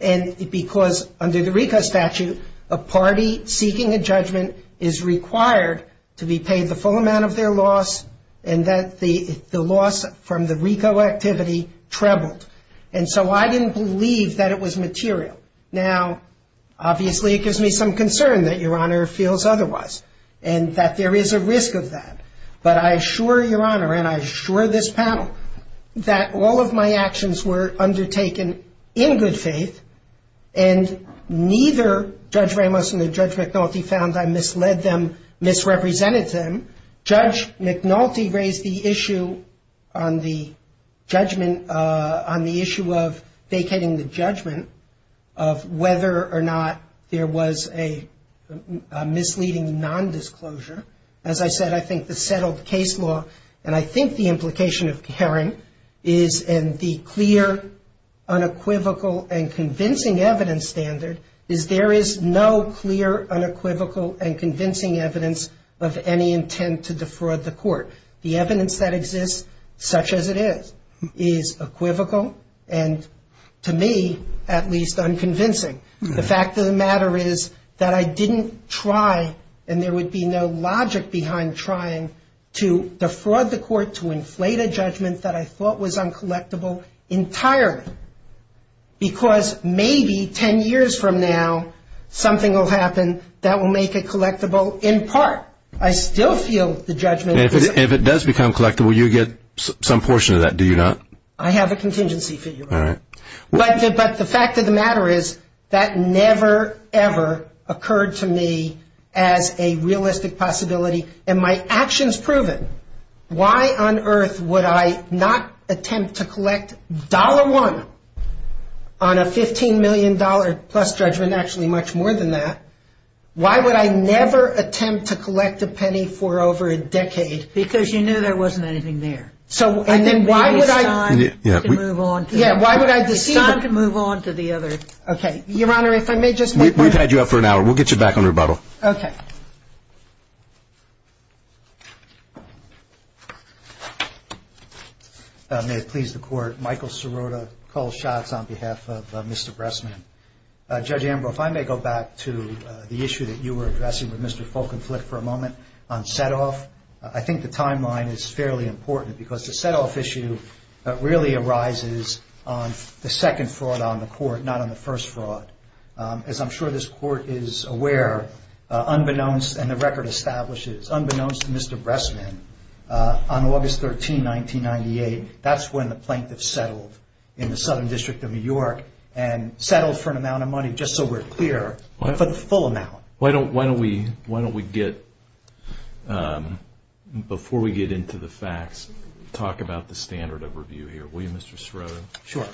And because under the RICO statute, a party seeking a judgment is required to be paid the full amount of their loss, and that the loss from the RICO activity trebled. And so I didn't believe that it was material. Now, obviously it gives me some concern that Your Honor feels otherwise, and that there is a risk of that. But I assure Your Honor, and I assure this panel, that all of my actions were undertaken in good faith, and neither Judge Ramos nor Judge McNulty found I misled them, misrepresented them. Judge McNulty raised the issue on the judgment, on the issue of vacating the judgment, of whether or not there was a misleading nondisclosure. As I said, I think the settled case law, and I think the implication of Karen, is in the clear, unequivocal, and convincing evidence standard, is there is no clear, unequivocal, and convincing evidence of any intent to defraud the court. The evidence that exists, such as it is, is equivocal, and to me, at least, unconvincing. The fact of the matter is that I didn't try, and there would be no logic behind trying, to defraud the court to inflate a judgment that I thought was uncollectible entirely. Because maybe ten years from now, something will happen that will make it collectible in part. I still feel the judgment. If it does become collectible, you get some portion of that, do you not? I have a contingency figure. All right. But the fact of the matter is that never, ever occurred to me as a realistic possibility, and my actions prove it. Why on earth would I not attempt to collect $1 on a $15 million plus judgment, actually much more than that? Why would I never attempt to collect a penny for over a decade? Because you knew there wasn't anything there. And then why would I decide to move on to the other? Okay. Your Honor, if I may just make a motion. We've had you up for an hour. We'll get you back on rebuttal. Okay. May it please the Court. Michael Sirota, Cole Schatz, on behalf of Mr. Bressman. Judge Amber, if I may go back to the issue that you were addressing with Mr. Fulkenflik for a moment on set-off. I think the timeline is fairly important because the set-off issue really arises on the second fraud on the court, not on the first fraud. As I'm sure this Court is aware, unbeknownst, and the record establishes, unbeknownst to Mr. Bressman, on August 13, 1998, that's when the plaintiff settled in the Southern District of New York and settled for an amount of money, just so we're clear, but for the full amount. Why don't we get, before we get into the facts, talk about the standard of review here. Will you, Mr. Sirota? Sure.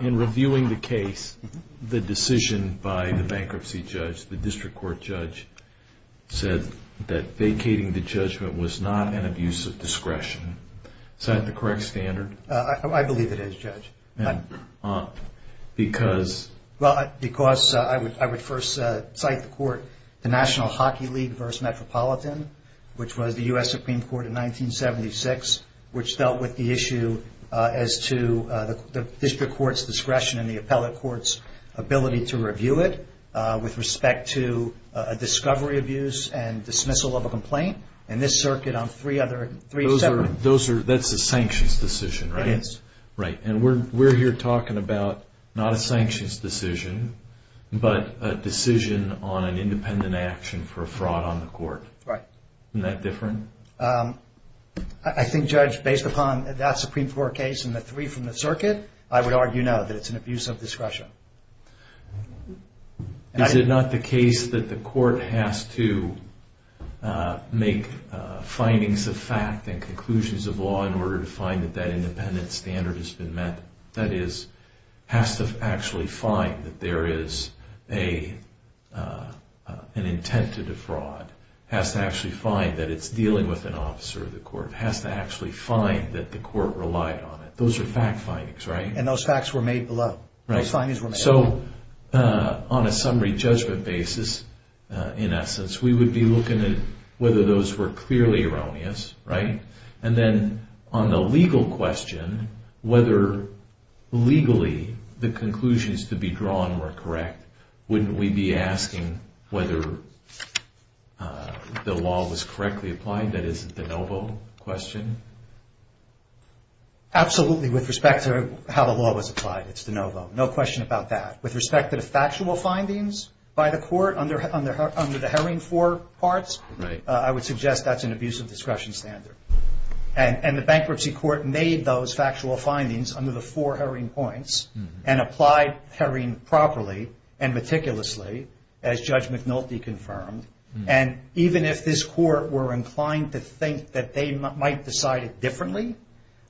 In reviewing the case, the decision by the bankruptcy judge, the district court judge, said that vacating the judgment was not an abuse of discretion. Is that the correct standard? I believe it is, Judge. Because? Because I would first cite the court, the National Hockey League v. Metropolitan, which was the U.S. Supreme Court in 1976, which dealt with the issue as to the district court's discretion and the appellate court's ability to review it, with respect to a discovery of use and dismissal of a complaint, and this circuit on three separate- That's a sanctions decision, right? It is. Right. And we're here talking about not a sanctions decision, but a decision on an independent action for fraud on the court. Right. Isn't that different? I think, Judge, based upon that Supreme Court case and the three from the circuit, I would argue, no, that it's an abuse of discretion. Is it not the case that the court has to make findings of fact and conclusions of law in order to find that that independent standard has been met? That is, has to actually find that there is an intent to defraud. Has to actually find that it's dealing with an officer of the court. Has to actually find that the court relied on it. Those are fact findings, right? And those facts were made below. So, on a summary judgment basis, in essence, we would be looking at whether those were clearly erroneous, right? And then, on the legal question, whether legally the conclusions to be drawn were correct, wouldn't we be asking whether the law was correctly applied? That is a de novo question. Absolutely, with respect to how the law was applied. It's de novo. No question about that. With respect to the factual findings by the court under the herring for parts, I would suggest that's an abuse of discretion standard. And the bankruptcy court made those factual findings under the four herring points and applied herring properly and meticulously, as Judge McNulty confirmed. And even if this court were inclined to think that they might decide differently,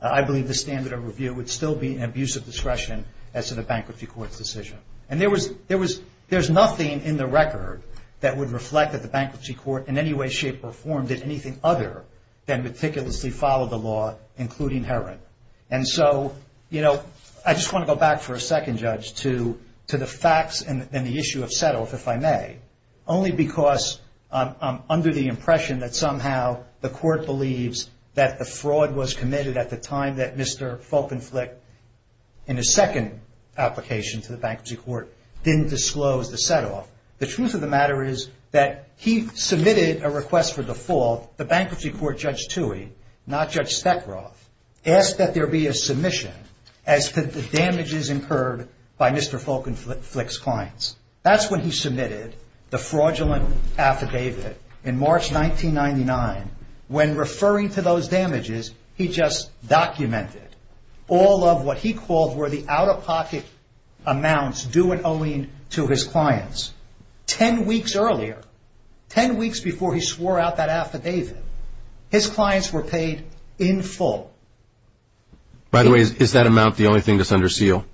I believe the standard of review would still be an abuse of discretion as in a bankruptcy court position. And there was nothing in the record that would reflect that the bankruptcy court in any way, shape, or form did anything other than meticulously follow the law, including herring. And so, you know, I just want to go back for a second, Judge, to the facts and the issue of settlement, if I may, only because I'm under the impression that somehow the court believes that the fraud was committed at the time and that Mr. Fulkenflik, in his second application to the bankruptcy court, didn't disclose the set-off. The truth of the matter is that he submitted a request for default. The bankruptcy court, Judge Tuohy, not Judge Stekleroff, asked that there be a submission as to the damages incurred by Mr. Fulkenflik's claims. That's when he submitted the fraudulent affidavit in March 1999. When referring to those damages, he just documented. All of what he called were the out-of-pocket amounts due and owing to his clients. Ten weeks earlier, ten weeks before he swore out that affidavit, his clients were paid in full. By the way, is that amount the only thing that's under seal?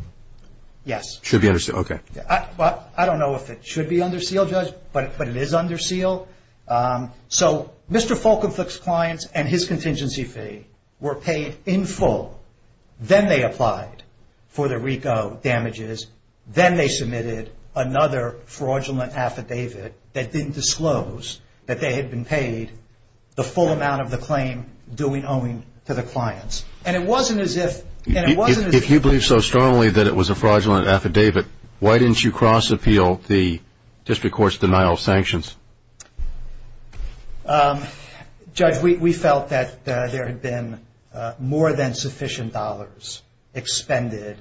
Yes. Should be under seal, okay. I don't know if it should be under seal, Judge, but it is under seal. So, Mr. Fulkenflik's clients and his contingency fee were paid in full. Then they applied for the RICO damages. Then they submitted another fraudulent affidavit that didn't disclose that they had been paid the full amount of the claim due and owing to the clients. And it wasn't as if... If you believe so strongly that it was a fraudulent affidavit, why didn't you cross-appeal the district court's denial of sanctions? Judge, we felt that there had been more than sufficient dollars expended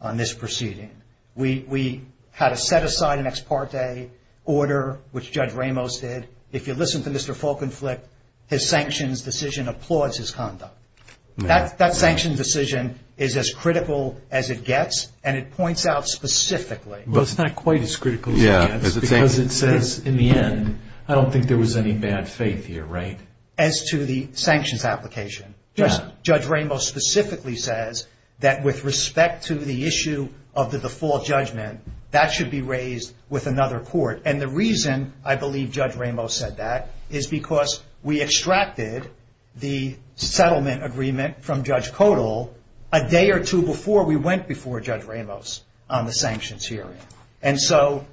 on this proceeding. We had to set aside an ex parte order, which Judge Ramos did. If you listen to Mr. Fulkenflik, his sanctions decision applauds his conduct. That sanctions decision is as critical as it gets, and it points out specifically... Well, it's not quite as critical as it gets because it says, in the end, I don't think there was any bad faith here, right? As to the sanctions application. Yes. Judge Ramos specifically says that with respect to the issue of the default judgment, that should be raised with another court. And the reason I believe Judge Ramos said that is because we extracted the settlement agreement from Judge Kodal a day or two before we went before Judge Ramos on the sanctions hearing. And so,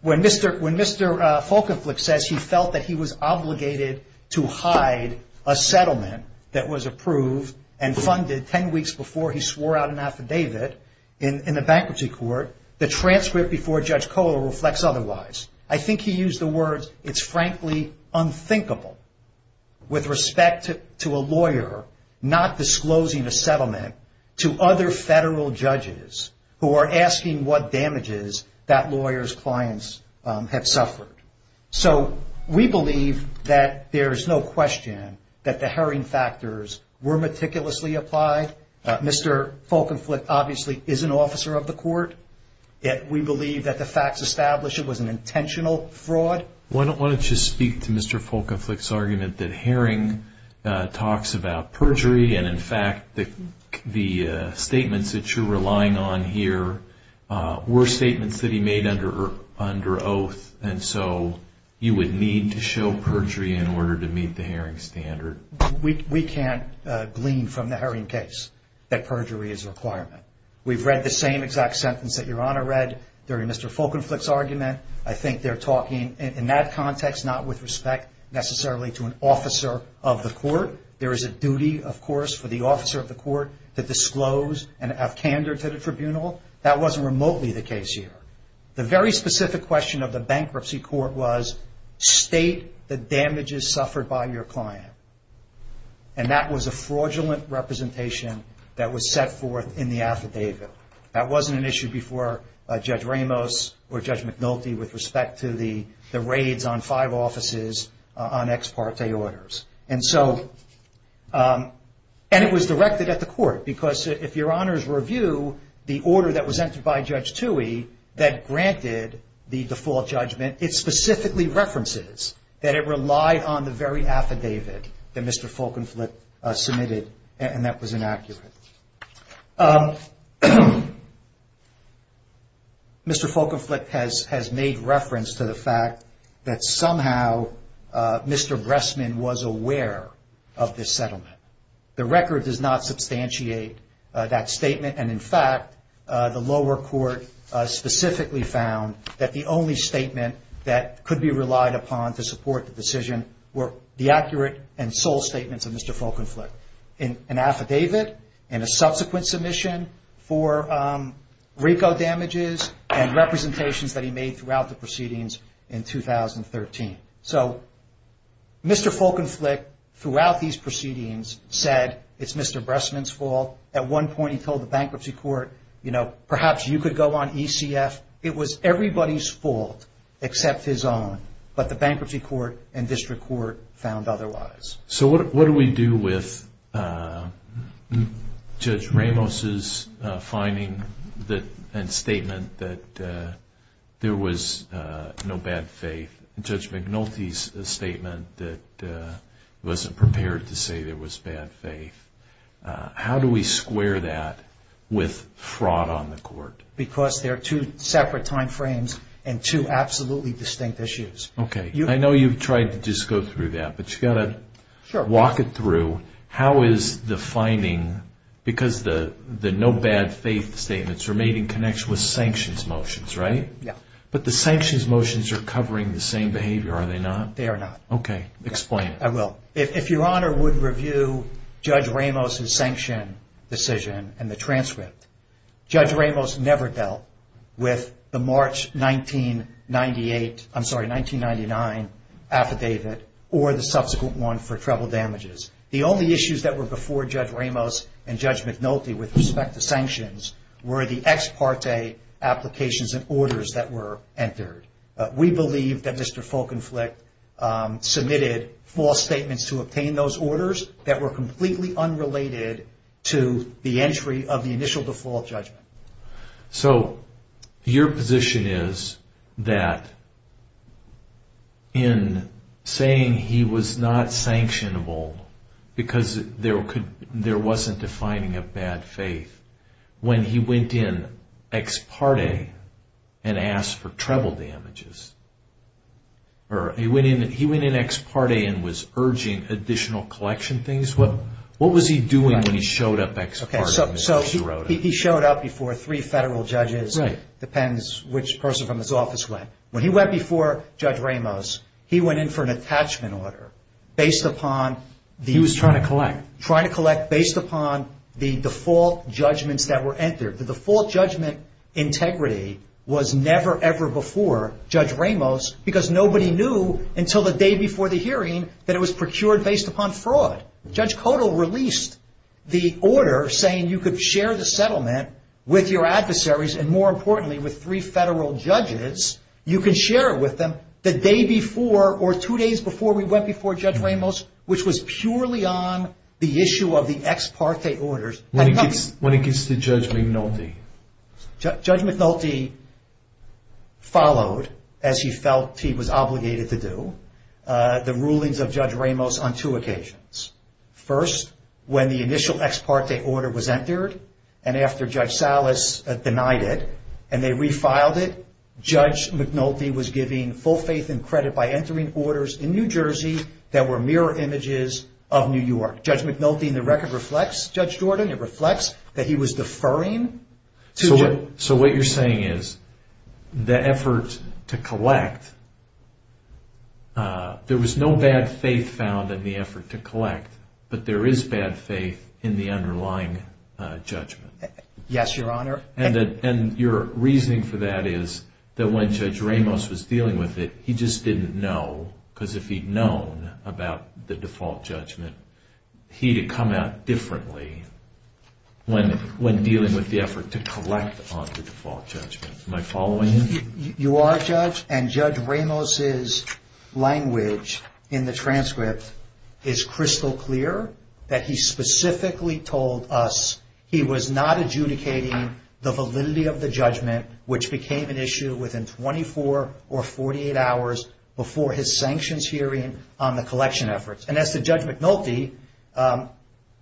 when Mr. Fulkenflik says he felt that he was obligated to hide a settlement that was approved and funded 10 weeks before he swore out an affidavit in the bankruptcy court, the transcript before Judge Kodal reflects otherwise. I think he used the words, it's frankly unthinkable with respect to a lawyer not disclosing a settlement to other federal judges who are asking what damages that lawyer's clients have suffered. So, we believe that there is no question that the herring factors were meticulously applied. Mr. Fulkenflik obviously is an officer of the court, yet we believe that the facts established it was an intentional fraud. Why don't I just speak to Mr. Fulkenflik's argument that herring talks about perjury and in fact the statements that you're relying on here were statements that he made under oath and so you would need to show perjury in order to meet the herring standard. We can't glean from the herring case that perjury is a requirement. We've read the same exact sentence that Your Honor read during Mr. Fulkenflik's argument. I think they're talking in that context not with respect necessarily to an officer of the court. There is a duty, of course, for the officer of the court to disclose and have candor to the tribunal. That wasn't remotely the case here. The very specific question of the bankruptcy court was state the damages suffered by your client and that was a fraudulent representation that was set forth in the affidavit. That wasn't an issue before Judge Ramos or Judge McNulty with respect to the raids on five offices on ex parte orders. And it was directed at the court because if Your Honor's review the order that was entered by Judge Tuohy that granted the default judgment, it specifically references that it relied on the very affidavit that Mr. Fulkenflik submitted and that was inaccurate. Mr. Fulkenflik has made reference to the fact that somehow Mr. Bressman was aware of this settlement. The record does not substantiate that statement and in fact the lower court specifically found that the only statement that could be relied upon to support the decision were the accurate and sole statements of Mr. Fulkenflik. In an affidavit and a subsequent submission for RICO damages and representations that he made throughout the proceedings in 2013. So Mr. Fulkenflik throughout these proceedings said it's Mr. Bressman's fault. At one point he told the bankruptcy court, you know, perhaps you could go on ECF. It was everybody's fault except his own but the bankruptcy court and district court found otherwise. So what do we do with Judge Ramos' finding and statement that there was no bad faith? Judge McNulty's statement that wasn't prepared to say there was bad faith. How do we square that with fraud on the court? Because there are two separate time frames and two absolutely distinct issues. Okay, I know you've tried to just go through that but you've got to walk it through. How is the finding, because the no bad faith statements are made in connection with sanctions motions, right? Yeah. But the sanctions motions are covering the same behavior, are they not? They are not. Okay, explain. I will. If Your Honor would review Judge Ramos' sanction decision and the transcript. Judge Ramos never dealt with the March 1998, I'm sorry, 1999 affidavit or the subsequent one for treble damages. The only issues that were before Judge Ramos and Judge McNulty with respect to sanctions were the ex parte applications and orders that were entered. We believe that Mr. Folkenflik submitted false statements to obtain those orders that were completely unrelated to the entry of the initial default judgment. So your position is that in saying he was not sanctionable because there wasn't defining of bad faith, when he went in ex parte and asked for treble damages, or he went in ex parte and was urging additional collection things? What was he doing when he showed up ex parte? Okay, so he showed up before three federal judges, depends which person from his office went. When he went before Judge Ramos, he went in for an attachment order based upon the... He was trying to collect. Trying to collect based upon the default judgments that were entered. The default judgment integrity was never ever before Judge Ramos because nobody knew until the day before the hearing that it was procured based upon fraud. Judge Kodal released the order saying you could share the settlement with your adversaries and more importantly with three federal judges. You can share it with them the day before or two days before we went before Judge Ramos, which was purely on the issue of the ex parte orders. When it gets to Judge McNulty? Judge McNulty followed, as he felt he was obligated to do, the rulings of Judge Ramos on two occasions. First, when the initial ex parte order was entered and after Judge Salas denied it and they refiled it, Judge McNulty was giving full faith and credit by entering orders in New Jersey that were mirror images of New York. Judge McNulty in the record reflects Judge Gordon. It reflects that he was deferring to... So what you're saying is the efforts to collect, there was no bad faith found in the effort to collect, but there is bad faith in the underlying judgment. Yes, Your Honor. And your reasoning for that is that when Judge Ramos was dealing with it, he just didn't know because if he'd known about the default judgment, he'd have come out differently when dealing with the effort to collect on the default judgment. Am I following you? You are, Judge, and Judge Ramos's language in the transcript is crystal clear, that he specifically told us he was not adjudicating the validity of the judgment, which became an issue within 24 or 48 hours before his sanctions hearing on the collection efforts. And as to Judge McNulty,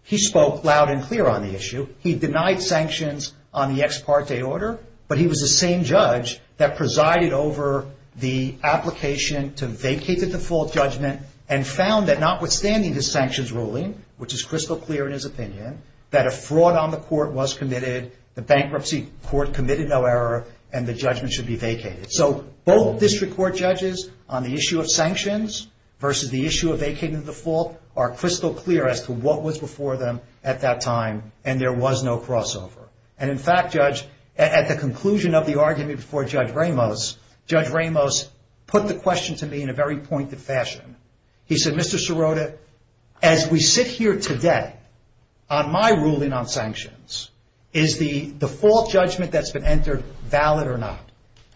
he spoke loud and clear on the issue. He denied sanctions on the ex parte order, but he was the same judge that presided over the application to vacate the default judgment and found that notwithstanding the sanctions ruling, which is crystal clear in his opinion, that a fraud on the court was committed, the bankruptcy court committed no error, and the judgment should be vacated. So, both district court judges on the issue of sanctions versus the issue of vacating the default are crystal clear as to what was before them at that time, and there was no crossover. And in fact, Judge, at the conclusion of the argument before Judge Ramos, Judge Ramos put the question to me in a very pointed fashion. He said, Mr. Sirota, as we sit here today, on my ruling on sanctions, is the default judgment that's been entered valid or not?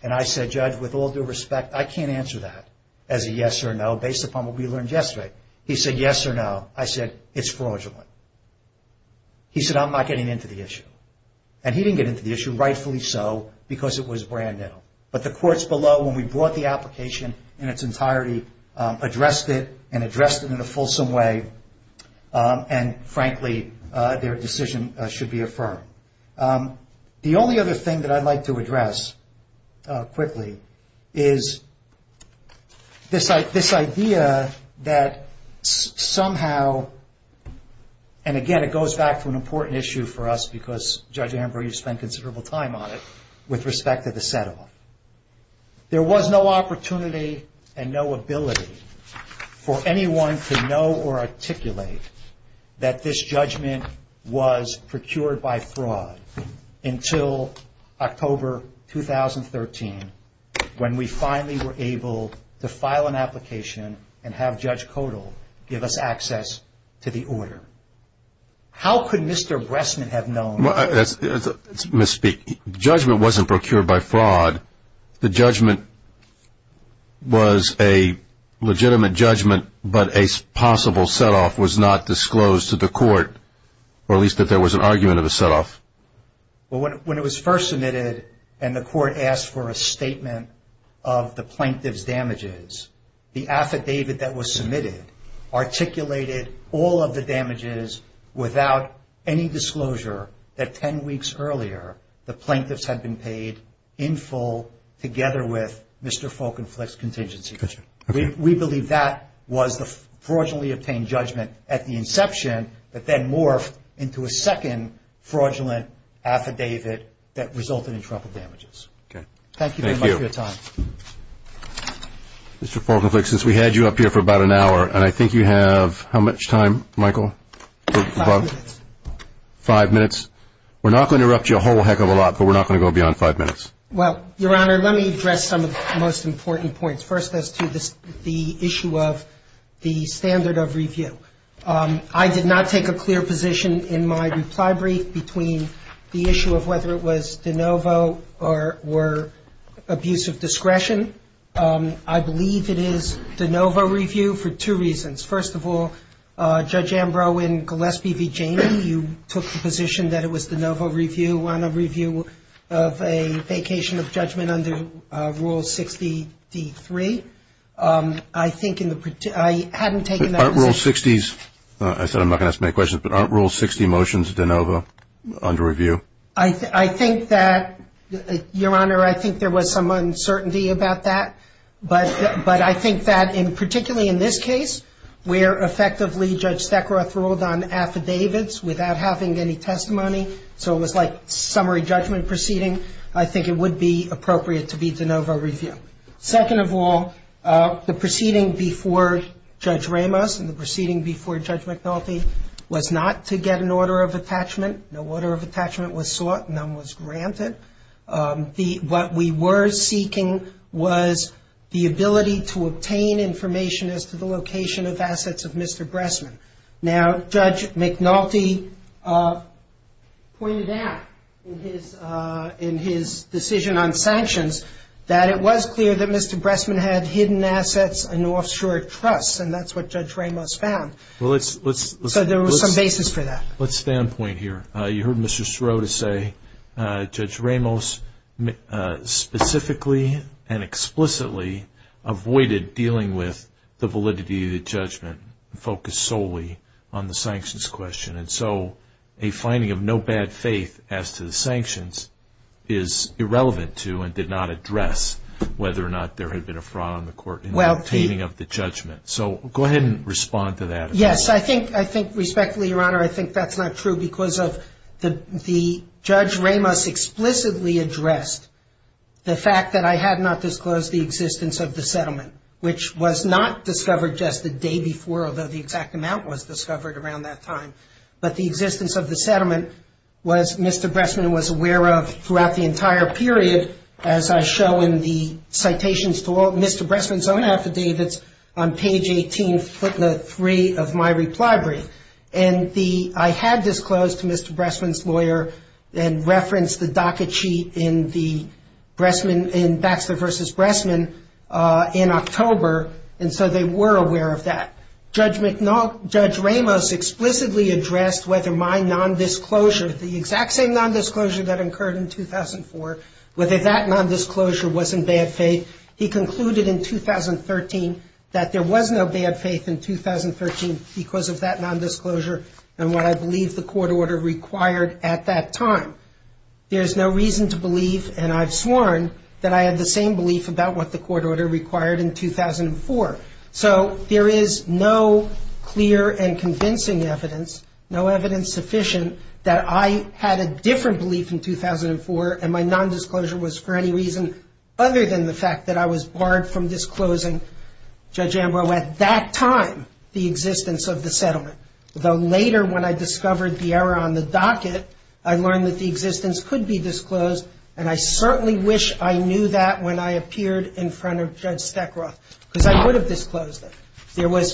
And I said, Judge, with all due respect, I can't answer that as a yes or no based upon what we learned yesterday. He said, yes or no. I said, it's fraudulent. He said, I'm not getting into the issue. And he didn't get into the issue, rightfully so, because it was brand new. But the courts below, when we brought the application in its entirety, addressed it, and addressed it in a fulsome way, and frankly, their decision should be affirmed. The only other thing that I'd like to address quickly is this idea that somehow, and again, it goes back to an important issue for us because Judge Amber, you spent considerable time on it, with respect to the settlement. There was no opportunity and no ability for anyone to know or articulate that this judgment was procured by fraud until October 2013, when we finally were able to file an application and have Judge Kodal give us access to the order. How could Mr. Bressman have known? Judgement wasn't procured by fraud. The judgment was a legitimate judgment, but a possible setoff was not disclosed to the court, or at least that there was an argument of a setoff. When it was first submitted and the court asked for a statement of the plaintiff's damages, the affidavit that was submitted articulated all of the damages without any disclosure that 10 weeks earlier, the plaintiffs had been paid in full, together with Mr. Falkenfleck's contingency. We believe that was the fraudulently obtained judgment at the inception, but then morphed into a second fraudulent affidavit that resulted in truffle damages. Thank you very much for your time. Mr. Falkenfleck, since we had you up here for about an hour, and I think you have how much time, Michael? Five minutes. Five minutes. We're not going to interrupt you a whole heck of a lot, but we're not going to go beyond five minutes. Well, Your Honor, let me address some of the most important points. First, as to the issue of the standard of review. I did not take a clear position in my reply brief between the issue of whether it was de novo or abuse of discretion. I believe it is de novo review for two reasons. First of all, Judge Ambrow and Gillespie v. Janney, you took the position that it was de novo review, on a review of a vacation of judgment under Rule 60d3. Aren't Rule 60 motions de novo under review? I think that, Your Honor, I think there was some uncertainty about that, but I think that particularly in this case, where effectively Judge Sekaroff ruled on affidavits without having any testimony, so it was like summary judgment proceeding, I think it would be appropriate to be de novo review. Second of all, the proceeding before Judge Ramos and the proceeding before Judge McNulty was not to get an order of attachment. No order of attachment was sought, none was granted. What we were seeking was the ability to obtain information as to the location of assets of Mr. Bressman. Now, Judge McNulty pointed that in his decision on sanctions, that it was clear that Mr. Bressman had hidden assets in offshore trusts, and that's what Judge Ramos found. So there was some basis for that. Let's stand point here. You heard Mr. Shiro to say Judge Ramos specifically and explicitly avoided dealing with the validity of the judgment, focused solely on the sanctions question, and so a finding of no bad faith as to the sanctions is irrelevant to and did not address whether or not there had been a fraud on the court in obtaining of the judgment. So go ahead and respond to that. Yes, I think respectfully, Your Honor, I think that's not true because the Judge Ramos explicitly addressed the fact that I had not disclosed the existence of the settlement, which was not discovered just the day before, although the exact amount was discovered around that time. But the existence of the settlement was Mr. Bressman was aware of throughout the entire period, as I show in the citations below. Mr. Bressman's own affidavits on page 18, footnote 3 of my reply brief. And I had disclosed to Mr. Bressman's lawyer and referenced the docket sheet in the Bressman, in Baxter v. Bressman in October, and so they were aware of that. Judge Ramos explicitly addressed whether my nondisclosure, the exact same nondisclosure that occurred in 2004, whether that nondisclosure was in bad faith. He concluded in 2013 that there was no bad faith in 2013 because of that nondisclosure and what I believe the court order required at that time. There's no reason to believe, and I've sworn, that I had the same belief about what the court order required in 2004. So there is no clear and convincing evidence, no evidence sufficient, that I had a different belief in 2004 and my nondisclosure was for any reason other than the fact that I was barred from disclosing, Judge Ambrose, at that time, the existence of the settlement. Though later when I discovered the error on the docket, I learned that the existence could be disclosed and I certainly wish I knew that when I appeared in front of Judge Steckroth. Because I would have disclosed it.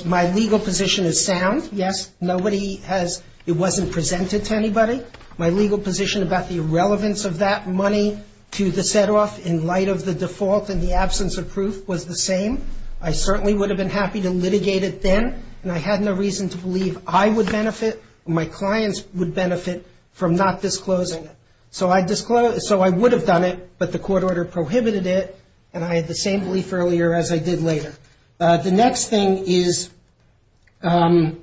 My legal position is sound. Yes, it wasn't presented to anybody. My legal position about the relevance of that money to the set-off in light of the default and the absence of proof was the same. I certainly would have been happy to litigate it then and I had no reason to believe I would benefit and my clients would benefit from not disclosing it. So I would have done it, but the court order prohibited it and I had the same belief earlier as I did later. The next thing is in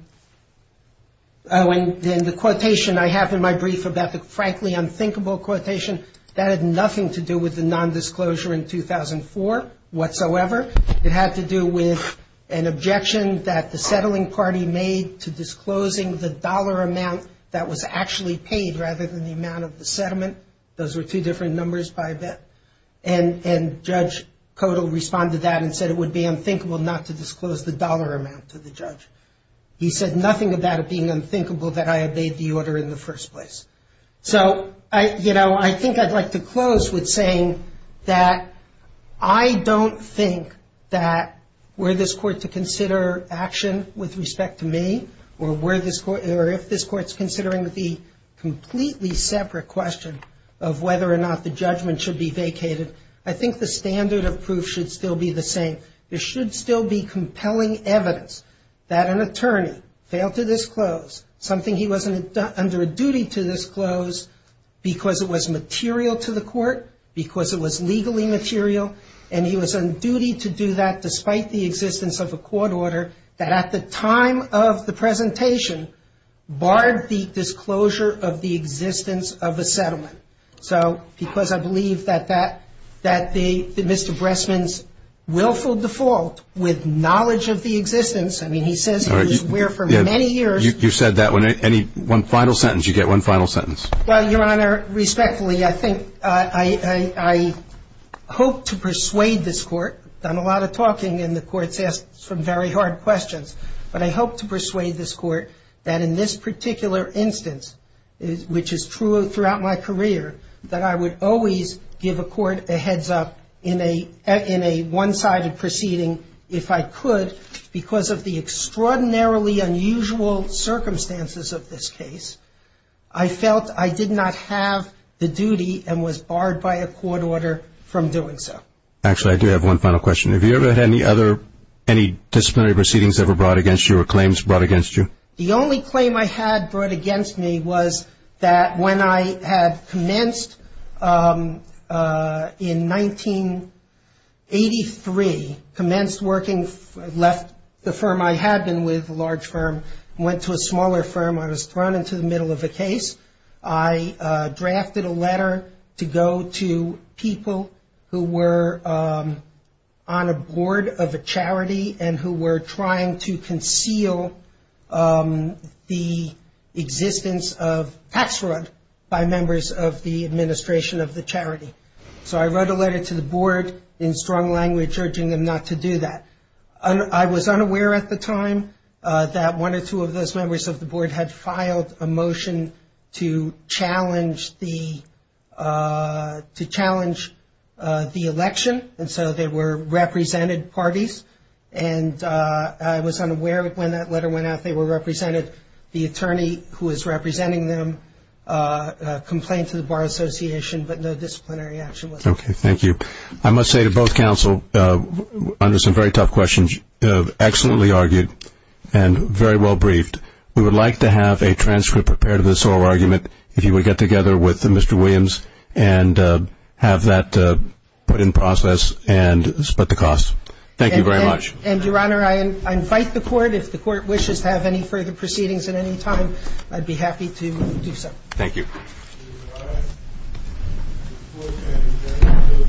the quotation I have in my brief about the frankly unthinkable quotation, that had nothing to do with the nondisclosure in 2004 whatsoever. It had to do with an objection that the settling party made to disclosing the dollar amount that was actually paid rather than the amount of the settlement. Those were two different numbers by a bit. And Judge Kodal responded to that and said it would be unthinkable not to disclose the dollar amount to the judge. He said nothing about it being unthinkable that I obeyed the order in the first place. So, you know, I think I'd like to close with saying that I don't think that were this court to consider action with respect to me or if this court is considering the completely separate question of whether or not the judgment should be vacated, I think the standard of proof should still be the same. There should still be compelling evidence that an attorney failed to disclose something he wasn't under a duty to disclose because it was material to the court, because it was legally material, and he was on duty to do that despite the existence of a court order that at the time of the presentation barred the disclosure of the existence of the settlement. So, because I believe that Mr. Bressman's willful default with knowledge of the existence, I mean, he says he's been aware for many years. You said that one final sentence, you get one final sentence. Well, Your Honor, respectfully, I think I hope to persuade this court. I've done a lot of talking and the court's asked some very hard questions, but I hope to persuade this court that in this particular instance, which is throughout my career, that I would always give a court a heads up in a one-sided proceeding if I could because of the extraordinarily unusual circumstances of this case, I felt I did not have the duty and was barred by a court order from doing so. Actually, I do have one final question. Have you ever had any other, any disciplinary proceedings ever brought against you or claims brought against you? The only claim I had brought against me was that when I had commenced in 1983, commenced working, left the firm I had been with, a large firm, went to a smaller firm. I was thrown into the middle of a case. I drafted a letter to go to people who were on a board of a charity and who were trying to conceal the existence of tax fraud by members of the administration of the charity. So I wrote a letter to the board in strong language urging them not to do that. I was unaware at the time that one or two of those members of the board had filed a motion to challenge the election, and so they were represented parties. And I was unaware when that letter went out they were represented. The attorney who is representing them complained to the Bar Association, but no disciplinary action was taken. Okay, thank you. I must say to both counsel, under some very tough questions, excellently argued and very well briefed, we would like to have a transcript prepared of this whole argument, if you would get together with Mr. Williams and have that put in process and split the costs. Thank you very much. And, Your Honor, I invite the court, if the court wishes to have any further proceedings at any time, I'd be happy to do so. Thank you. Thank you. Thank you. Thank you.